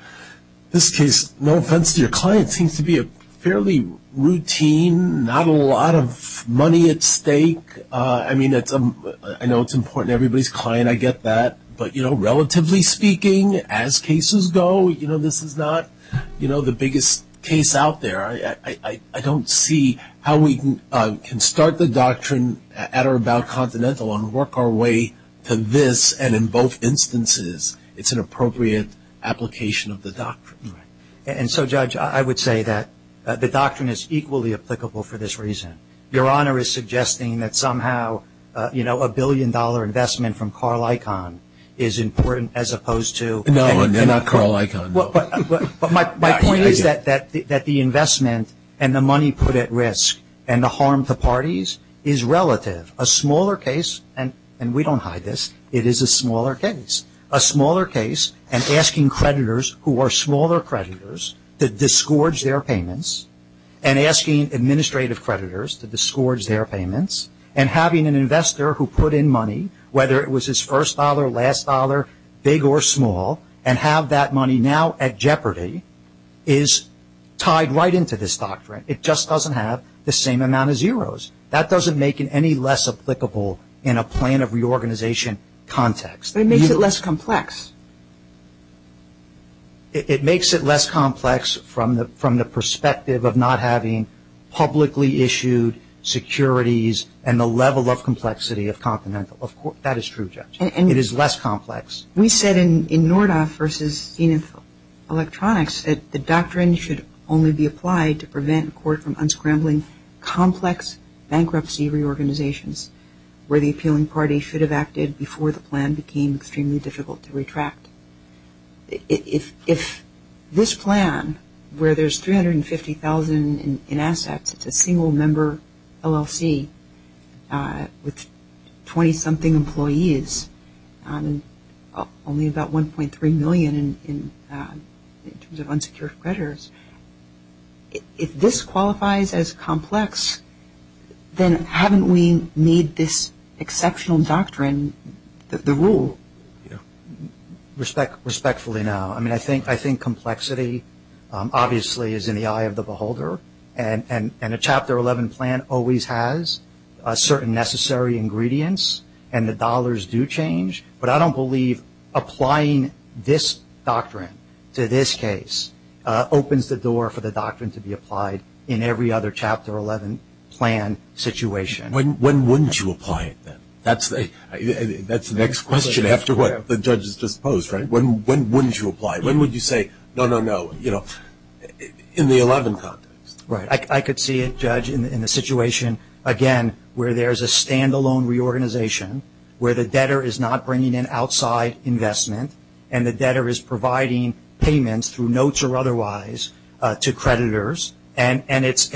this case? No offense to your client, seems to be a fairly routine, not a lot of money at stake. I mean, I know it's important to everybody's client, I get that. But, you know, relatively speaking, as cases go, you know, this is not, you know, the biggest case out there. I don't see how we can start the doctrine at or about Continental and work our way to this. And in both instances, it's an appropriate application of the doctrine. And so, Judge, I would say that the doctrine is equally applicable for this reason. Your Honor is suggesting that somehow, you know, a billion-dollar investment from Carl Icahn is important as opposed to. No, not Carl Icahn. But my point is that the investment and the money put at risk and the harm to parties is relative. A smaller case, and we don't hide this, it is a smaller case. A smaller case and asking creditors who are smaller creditors to disgorge their payments and asking administrative creditors to disgorge their payments and having an investor who put in money whether it was his first dollar, last dollar, big or small and have that money now at jeopardy is tied right into this doctrine. It just doesn't have the same amount of zeros. That doesn't make it any less applicable in a plan of reorganization context. It makes it less complex. It makes it less complex from the perspective of not having publicly issued securities and the level of complexity of Continental. That is true, Judge. It is less complex. We said in Nordoff v. Zenith Electronics that the doctrine should only be applied to prevent a court from unscrambling complex bankruptcy reorganizations where the appealing party should have acted before the plan became extremely difficult to retract. If this plan where there is $350,000 in assets, it is a single member LLC with 20 something employees and only about $1.3 million in terms of unsecured creditors, if this qualifies as complex, then haven't we made this exceptional doctrine the rule? Respectfully, no. I think complexity obviously is in the eye of the beholder and a Chapter 11 plan always has certain necessary ingredients and the dollars do change, but I don't believe applying this doctrine to this case opens the door for the doctrine to be applied in every other Chapter 11 plan situation. When wouldn't you apply it then? That's the next question after what the judge has just posed, right? When wouldn't you apply it? When would you say no, no, no in the 11th context? Right. I could see it, Judge, in the situation again where there is a standalone reorganization where the debtor is not bringing in outside investment and the debtor is providing payments through notes or otherwise to creditors and it's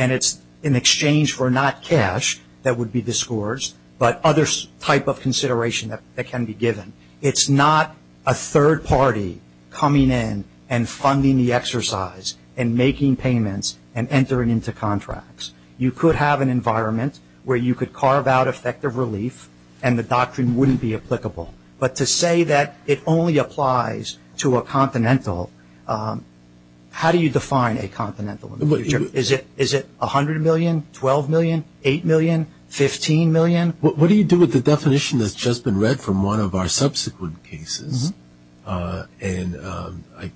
in exchange for not cash that would be the scores but other type of consideration that can be given. It's not a third party coming in and funding the exercise and making payments and entering into contracts. You could have an environment where you could carve out effective relief and the doctrine wouldn't be applicable, but to say that it only applies to a confidential, how do you define a confidential? Is it $100 million, $12 million, $8 million, $15 million? What do you do with the definition that's just been read from one of our subsequent cases?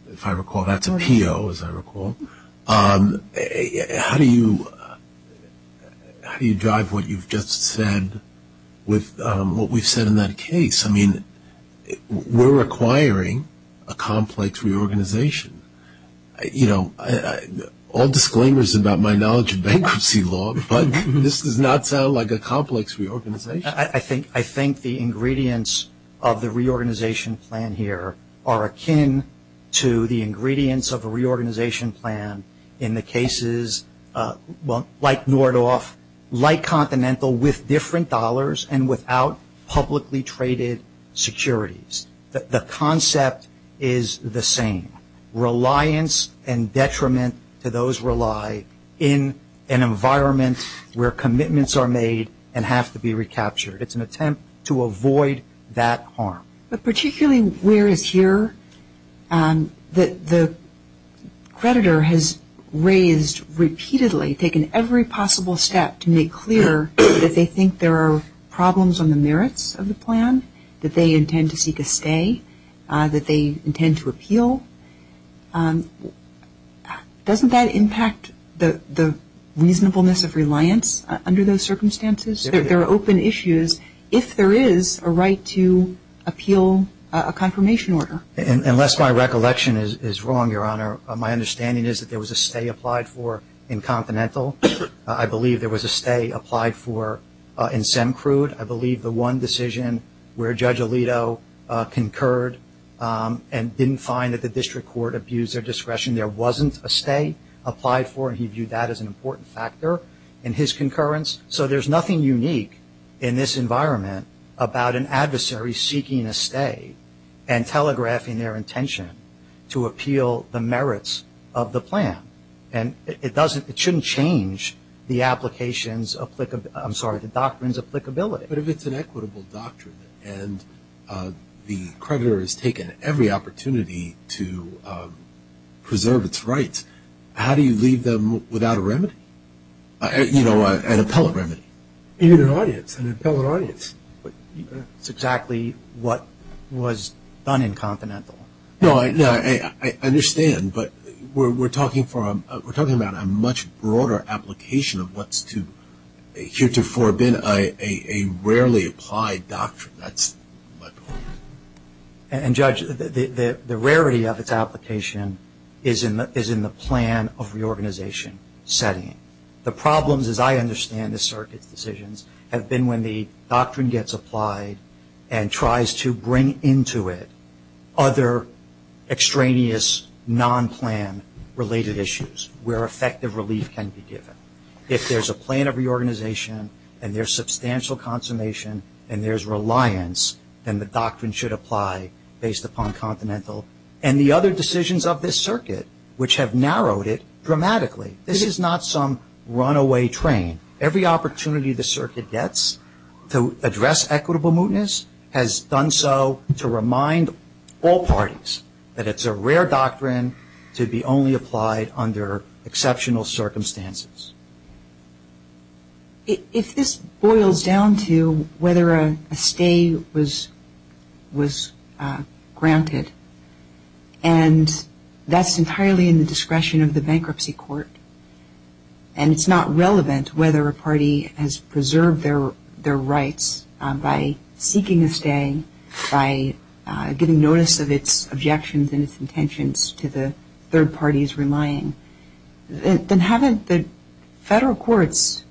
If I recall, that's a PO, as I recall. How do you drive what you've just said with what we said in that case? I mean, we're requiring a complex reorganization. You know, all disclaimers about my knowledge of bankruptcy law, but this does not sound like a complex reorganization. I think the ingredients of the reorganization plan here are akin to the ingredients of a reorganization plan in the cases like Nordhoff, like Continental, with different dollars and without publicly traded securities. The concept is the same. Reliance and detriment to those who rely in an environment where commitments are made and have to be recaptured. It's an attempt to avoid that harm. But particularly where it's here that the creditor has raised repeatedly, taken every possible step to make clear that they think there are problems on the merits of the plan, that they intend to seek a stay, that they intend to appeal. Doesn't that impact the reasonableness of reliance under those circumstances? There are open issues if there is a right to appeal a confirmation order. Unless my recollection is wrong, Your Honor, my understanding is that there was a stay applied for in Continental. I believe there was a stay applied for in Sencrude. I believe the one decision where Judge Alito concurred and didn't find that the district court abused their discretion, there wasn't a stay applied for, and he viewed that as an important factor in his concurrence. So there's nothing unique in this environment about an adversary seeking a stay and telegraphing their intention to appeal the merits of the plan. And it shouldn't change the applications of the doctrines of applicability. But if it's an equitable doctrine and the creditor has taken every opportunity to preserve its rights, how do you leave them without a remedy? You know, an appellate remedy. Even an audience, an appellate audience. That's exactly what was done in Continental. No, I understand, but we're talking about a much broader application of what's here to forbid a rarely applied doctrine. And, Judge, the rarity of its application is in the plan of reorganization setting. The problems, as I understand the circuit decisions, have been when the doctrine gets applied and tries to bring into it other extraneous, non-plan related issues where effective relief can be given. If there's a plan of reorganization and there's substantial consummation and there's reliance, then the doctrine should apply based upon Continental. And the other decisions of this circuit, which have narrowed it dramatically, this is not some runaway train. Every opportunity the circuit gets to address equitable mootness has done so to remind all parties that it's a rare doctrine to be only applied under exceptional circumstances. If this boils down to whether a stay was granted, and that's entirely in the discretion of the bankruptcy court, and it's not relevant whether a party has preserved their rights by seeking a stay, by getting notice of its objections and its intentions to the third parties relying, then haven't the federal courts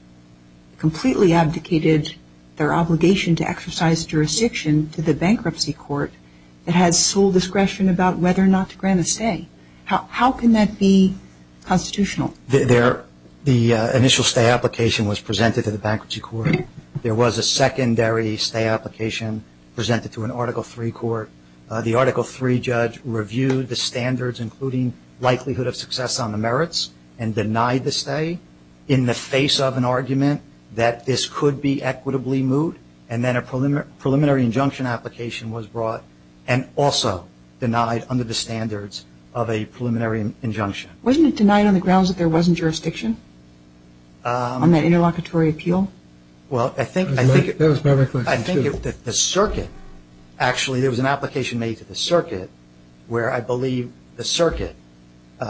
completely abdicated their obligation to exercise jurisdiction to the bankruptcy court that had sole discretion about whether or not to grant a stay? How can that be constitutional? The initial stay application was presented to the bankruptcy court. There was a secondary stay application presented to an Article III court. The Article III judge reviewed the standards including likelihood of success on the merits and denied the stay in the face of an argument that this could be equitably moot, and then a preliminary injunction application was brought and also denied under the standards of a preliminary injunction. Wasn't it denied on the grounds that there wasn't jurisdiction on that interlocutory appeal? Well, I think that the circuit, actually there was an application made to the circuit where I believe the circuit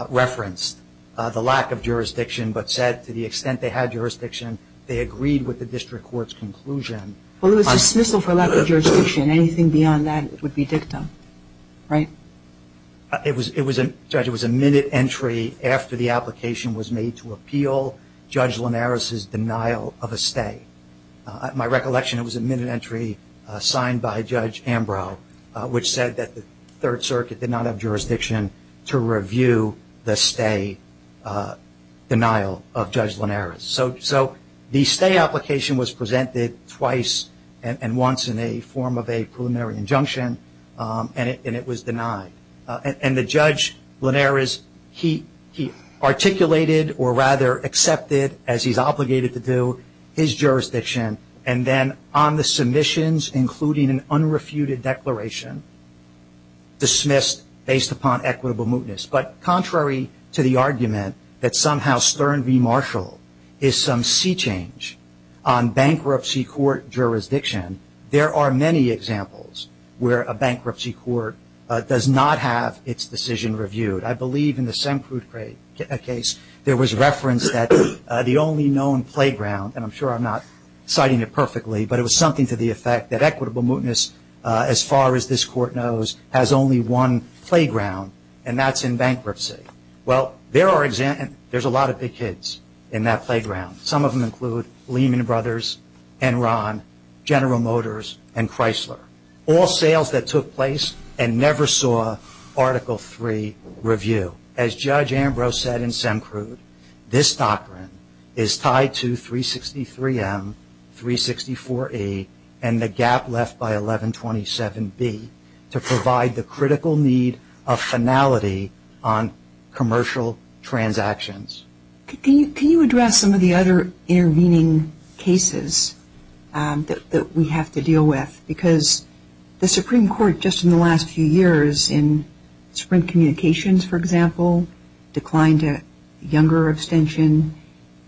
referenced the lack of jurisdiction but said to the extent they had jurisdiction, they agreed with the district court's conclusion. Well, it was dismissal for lack of jurisdiction. Anything beyond that would be dictum, right? It was a minute entry after the application was made to appeal Judge Linares' denial of a stay. At my recollection, it was a minute entry signed by Judge Ambrose, which said that the Third Circuit did not have jurisdiction to review the stay denial of Judge Linares. So the stay application was presented twice and once in the form of a preliminary injunction, and it was denied. And the Judge Linares, he articulated or rather accepted, as he's obligated to do, his jurisdiction, and then on the submissions, including an unrefuted declaration, dismissed based upon equitable mootness. But contrary to the argument that somehow Stern v. Marshall is some sea change on bankruptcy court jurisdiction, there are many examples where a bankruptcy court does not have its decision reviewed. I believe in the Semkruf case, there was reference that the only known playground, and I'm sure I'm not citing it perfectly, but it was something to the effect that equitable mootness, as far as this court knows, has only one playground, and that's in bankruptcy. Well, there's a lot of big kids in that playground. Some of them include Lehman Brothers, Enron, General Motors, and Chrysler, all sales that took place and never saw Article III review. As Judge Ambrose said in Semkruf, this doctrine is tied to 363M, 364A, and the gap left by 1127B to provide the critical need of finality on commercial transactions. Can you address some of the other intervening cases that we have to deal with? Because the Supreme Court, just in the last few years, in Supreme Communications, for example, declined a younger abstention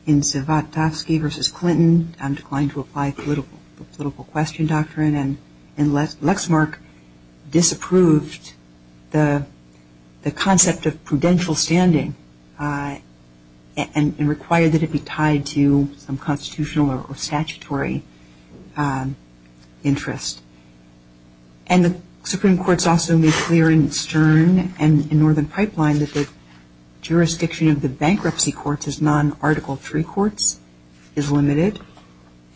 in Zivotofsky v. Clinton, declined to apply political question doctrine, and Lexmark disapproved the concept of prudential standing and required that it be tied to some constitutional or statutory interest. And the Supreme Court's also made clear in Stern and in Northern Pipeline that the jurisdiction of the bankruptcy courts as non-Article III courts is limited,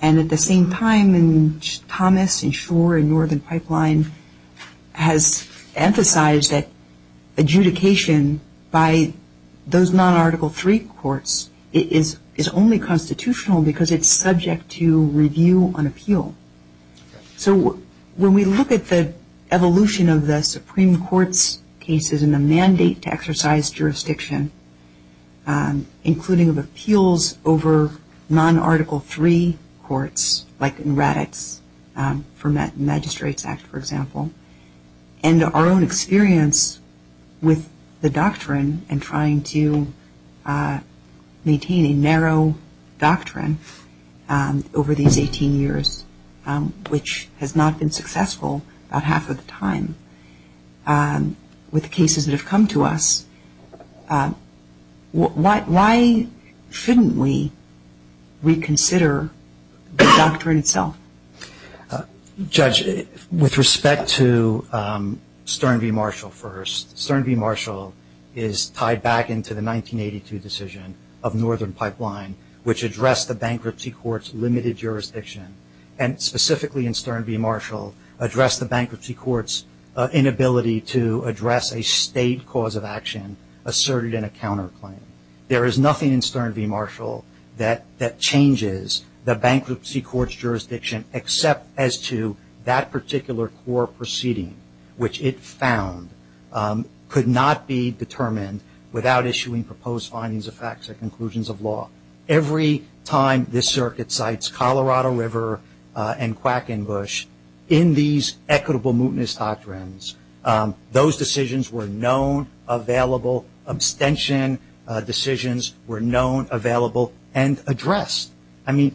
and at the same time in Thomas and Schor and Northern Pipeline has emphasized that adjudication by those non-Article III courts is only constitutional because it's subject to review on appeal. So when we look at the evolution of the Supreme Court's cases and the mandate to exercise jurisdiction, including of appeals over non-Article III courts, like in RADx for Magistrates Act, for example, and our own experience with the doctrine and trying to maintain a narrow doctrine over these 18 years, which has not been successful about half of the time with the cases that have come to us, why shouldn't we reconsider the doctrine itself? Judge, with respect to Stern v. Marshall first, Stern v. Marshall is tied back into the 1982 decision of Northern Pipeline, which addressed the bankruptcy court's limited jurisdiction, and specifically in Stern v. Marshall addressed the bankruptcy court's inability to address a state cause of action asserted in a counterclaim. There is nothing in Stern v. Marshall that changes the bankruptcy court's jurisdiction except as to that particular court proceeding, which it found could not be determined without issuing proposed findings of facts and conclusions of law. Every time this circuit cites Colorado River and Quackenbush, in these equitable mootness doctrines, those decisions were known, available, abstention decisions were known, available, and addressed.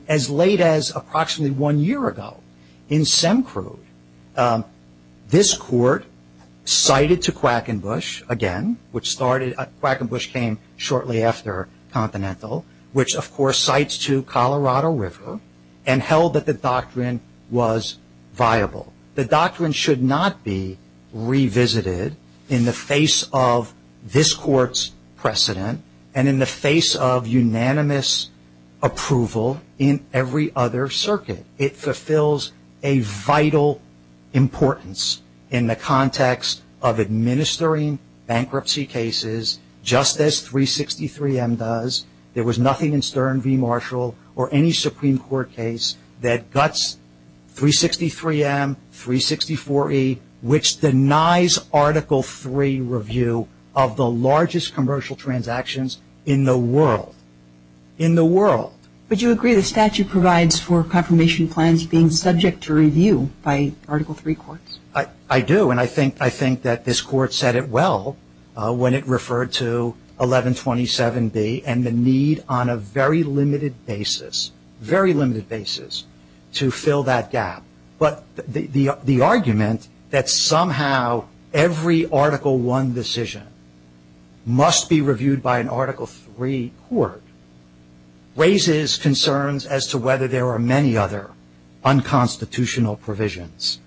As late as approximately one year ago in SEMCRUDE, this court cited to Quackenbush again, which Quackenbush came shortly after Continental, which of course cites to Colorado River and held that the doctrine was viable. The doctrine should not be revisited in the face of this court's precedent and in the face of unanimous approval in every other circuit. It fulfills a vital importance in the context of administering bankruptcy cases just as 363M does. There was nothing in Stern v. Marshall or any Supreme Court case that guts 363M, 364E, which denies Article III review of the largest commercial transactions in the world. In the world. Would you agree the statute provides for confirmation plans being subject to review by Article III courts? I do, and I think that this court said it well when it referred to 1127B and the need on a very limited basis, very limited basis, to fill that gap. But the argument that somehow every Article I decision must be reviewed by an Article III court raises concerns as to whether there are many other unconstitutional provisions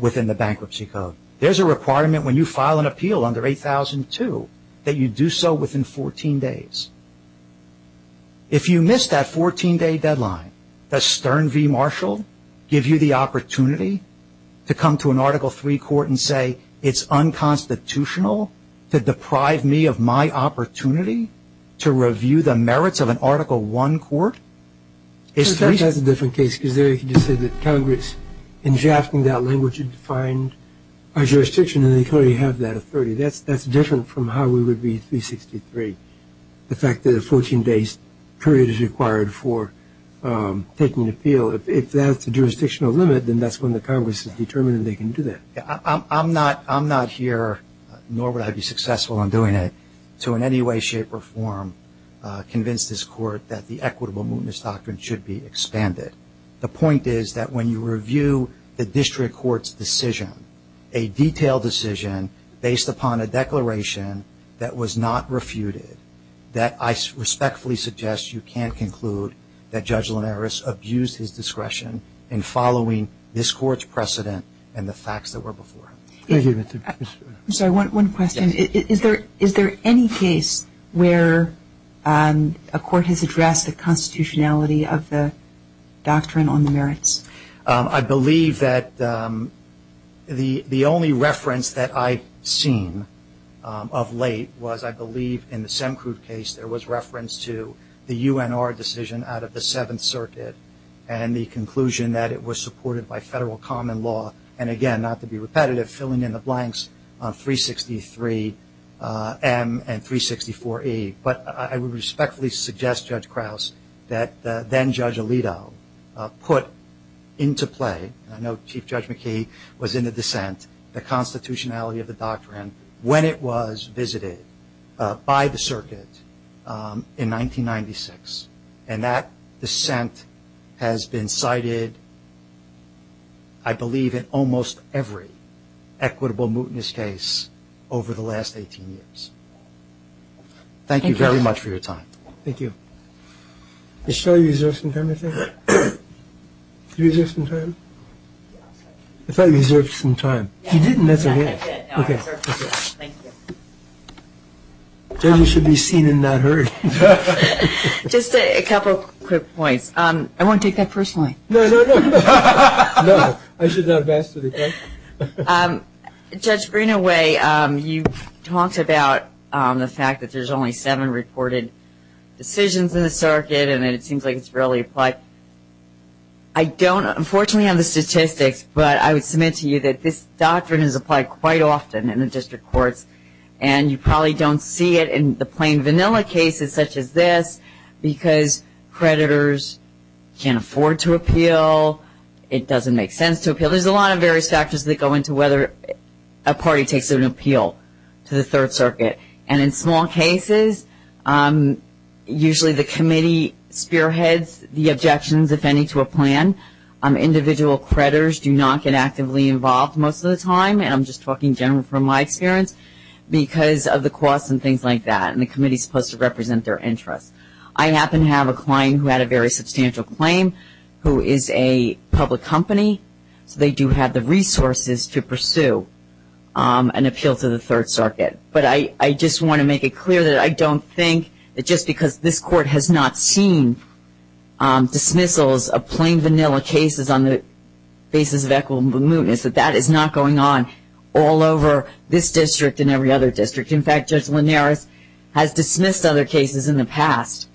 within the bankruptcy code. There's a requirement when you file an appeal under 8002 that you do so within 14 days. If you miss that 14-day deadline, does Stern v. Marshall give you the opportunity to come to an Article III court and say it's unconstitutional to deprive me of my opportunity to review the merits of an Article I court? That's a different case. You said that Congress, in drafting that language, should find a jurisdiction and clearly have that authority. That's different from how we would be in 363. The fact that a 14-day period is required for taking an appeal. If that's the jurisdictional limit, then that's when the Congress is determined they can do that. I'm not here, nor would I be successful in doing it, to in any way, shape, or form convince this court that the equitable movements doctrine should be expanded. The point is that when you review the district court's decision, a detailed decision based upon a declaration that was not refuted, that I respectfully suggest you can't conclude that Judge Linares abused his discretion in following this court's precedent and the facts that were before. I'm sorry, one question. Is there any case where a court has addressed the constitutionality of the doctrine on the merits? I believe that the only reference that I've seen of late was, I believe, in the Semkruf case, there was reference to the UNR decision out of the Seventh Circuit and the conclusion that it was supported by federal common law. And again, not to be repetitive, filling in the blanks on 363M and 364E. But I would respectfully suggest, Judge Krause, that then-Judge Alito put into play, I know Chief Judge McKee was in the dissent, the constitutionality of the doctrine, when it was visited by the circuit in 1996. And that dissent has been cited, I believe, in almost every equitable mutinous case over the last 18 years. Thank you very much for your time. Thank you. Is Shelly reserved some time, I think? Reserved some time? I thought he reserved some time. He didn't, that's okay. Okay. Thank you. Shelly should be seen and not heard. Just a couple quick points. I won't take that personally. No, no, no. No. I should not have asked for the test. Judge Greenaway, you talked about the fact that there's only seven reported decisions in the circuit and that it seems like it's rarely applied. I don't, unfortunately, have the statistics, but I would submit to you that this doctrine is applied quite often in the district courts. And you probably don't see it in the plain vanilla cases such as this because creditors can't afford to appeal. It doesn't make sense to appeal. Well, there's a lot of various factors that go into whether a party takes an appeal to the Third Circuit. And in small cases, usually the committee spearheads the objections, if any, to a plan. Individual creditors do not get actively involved most of the time, and I'm just talking generally from my experience, because of the costs and things like that. And the committee is supposed to represent their interest. I happen to have a client who had a very substantial claim who is a public company. They do have the resources to pursue an appeal to the Third Circuit. But I just want to make it clear that I don't think that just because this court has not seen dismissals of plain vanilla cases on the basis of equitable mootness, that that is not going on all over this district and every other district. In fact, Judge Linares has dismissed other cases in the past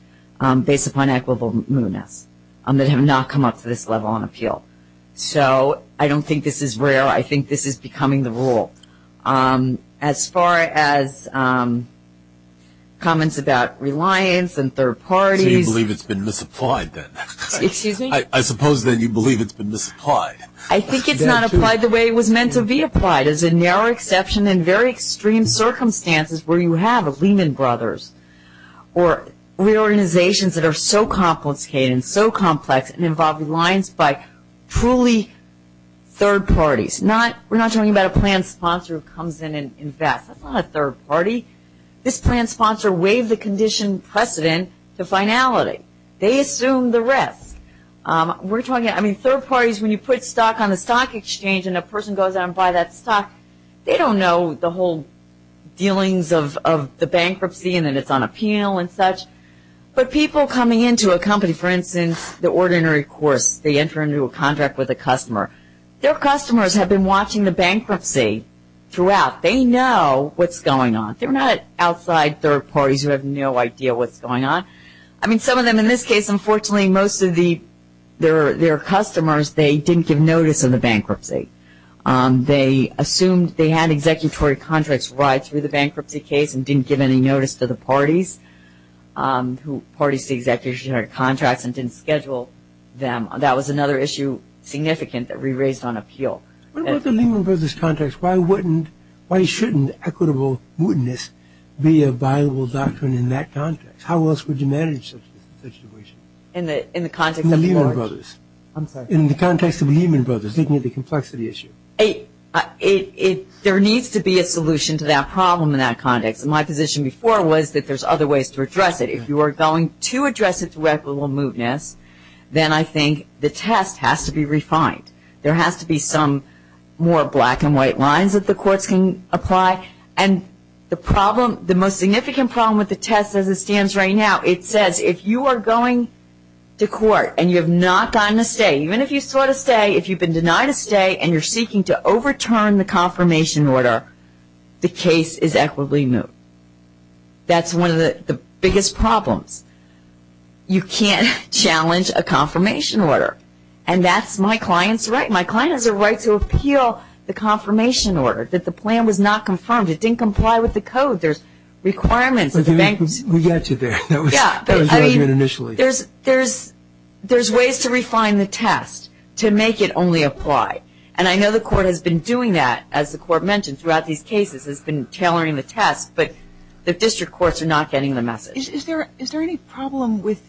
based upon equitable mootness that have not come up to this level on appeal. So I don't think this is rare. I think this is becoming the rule. As far as comments about reliance and third parties. Do you believe it's been misapplied then? Excuse me? I suppose then you believe it's been misapplied. I think it's not applied the way it was meant to be applied. It's a narrow exception in very extreme circumstances where you have Lehman Brothers or reorganizations that are so complicated and so complex and involve reliance by truly third parties. We're not talking about a planned sponsor who comes in and invests. That's not a third party. This planned sponsor waived the condition precedent to finality. They assumed the rest. We're talking, I mean, third parties, when you put stock on a stock exchange and a person goes out and buys that stock, they don't know the whole dealings of the bankruptcy and then it's on appeal and such. But people coming into a company, for instance, the ordinary course, they enter into a contract with a customer. Their customers have been watching the bankruptcy throughout. They know what's going on. They're not outside third parties who have no idea what's going on. I mean, some of them in this case, unfortunately, most of their customers, they didn't give notice of the bankruptcy. They assumed they had executory contracts right through the bankruptcy case and didn't give any notice to the parties. Parties to the executive contracts and didn't schedule them. That was another issue significant that we raised on appeal. What about the Lehman Brothers contracts? Why shouldn't equitable goodness be a viable doctrine in that context? How else would you manage such a situation in the context of the Lehman Brothers? In the context of the Lehman Brothers, didn't it be a complexity issue? There needs to be a solution to that problem in that context. My position before was that there's other ways to address it. If you are going to address it to equitable goodness, then I think the test has to be refined. There has to be some more black and white lines that the courts can apply. The most significant problem with the test as it stands right now, it says, if you are going to court and you have not gotten a say, even if you sought a say, if you've been denied a say and you're seeking to overturn the confirmation order, the case is equitably moved. That's one of the biggest problems. You can't challenge a confirmation order. And that's my client's right. My client has a right to appeal the confirmation order. The plan was not confirmed. It didn't comply with the code. There's requirements. We got you there. There's ways to refine the test to make it only apply. And I know the court has been doing that, as the court mentioned, throughout these cases has been tailoring the test, but the district courts are not getting the message. Is there any problem with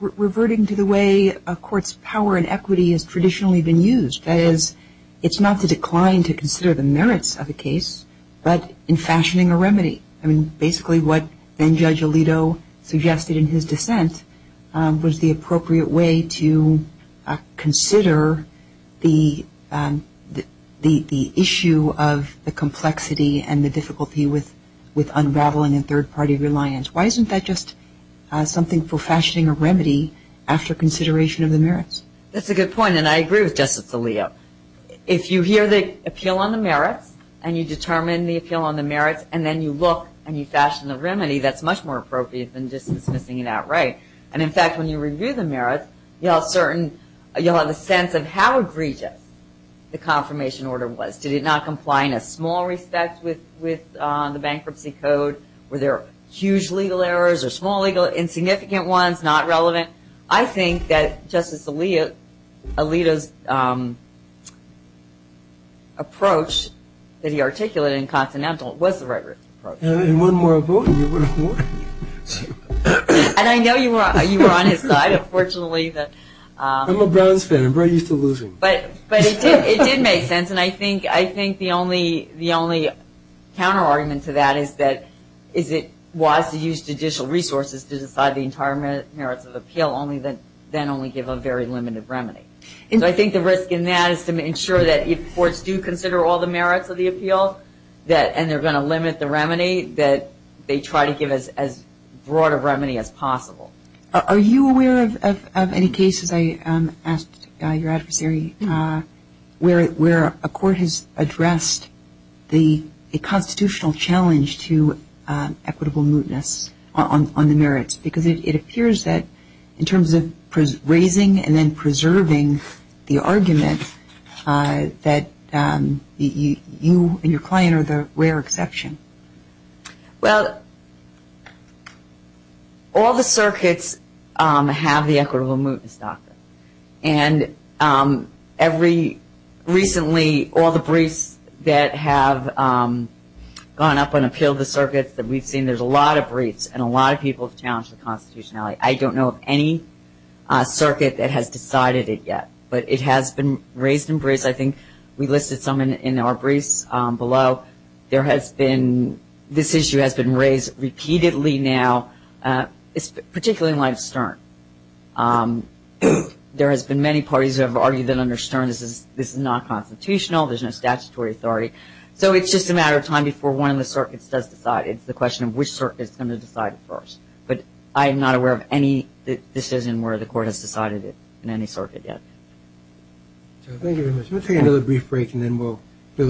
reverting to the way a court's power and equity has traditionally been used? That is, it's not to decline to consider the merits of a case, but in fashioning a remedy. I mean, basically what then-Judge Alito suggested in his defense was the appropriate way to consider the issue of the complexity and the difficulty with unraveling a third-party reliance. Why isn't that just something for fashioning a remedy after consideration of the merits? That's a good point, and I agree with Justice Alito. If you hear the appeal on the merits and you determine the appeal on the merits and then you look and you fashion the remedy, that's much more appropriate than just missing it out, right? And, in fact, when you review the merits, you'll have a sense of how egregious the confirmation order was. Did it not comply in a small respect with the bankruptcy code? Were there huge legal errors or small, insignificant ones, not relevant? I think that Justice Alito's approach that he articulated in Continental was the right approach. One more vote and you win a point. And I know you were on his side, unfortunately. I'm a brownstone. I'm very used to losing. But it did make sense, and I think the only counterargument to that is that if it was to use judicial resources to decide the entire merits of the appeal, then only give a very limited remedy. I think the risk in that is to ensure that if courts do consider all the merits of the appeal and they're going to limit the remedy, that they try to give as broad a remedy as possible. Are you aware of any cases, I asked your adversary, where a court has addressed the constitutional challenge to equitable mootness on the merits? Because it appears that, in terms of raising and then preserving the argument, that you and your client are the rare exception. Well, all the circuits have the equitable mootness doctrine. And recently, all the briefs that have gone up on appeal of the circuits that we've seen, there's a lot of briefs and a lot of people's challenges with constitutionality. I don't know of any circuit that has decided it yet. But it has been raised in briefs. I think we listed some in our briefs below. This issue has been raised repeatedly now, particularly in light of Stern. There have been many parties who have argued that under Stern this is not constitutional, there's no statutory authority. So it's just a matter of time before one of the circuits has decided. It's a question of which circuit is going to decide first. But I am not aware of any decision where the court has decided it in any circuit yet. Thank you very much. We'll take another brief break and then we'll do the last case. Thank you.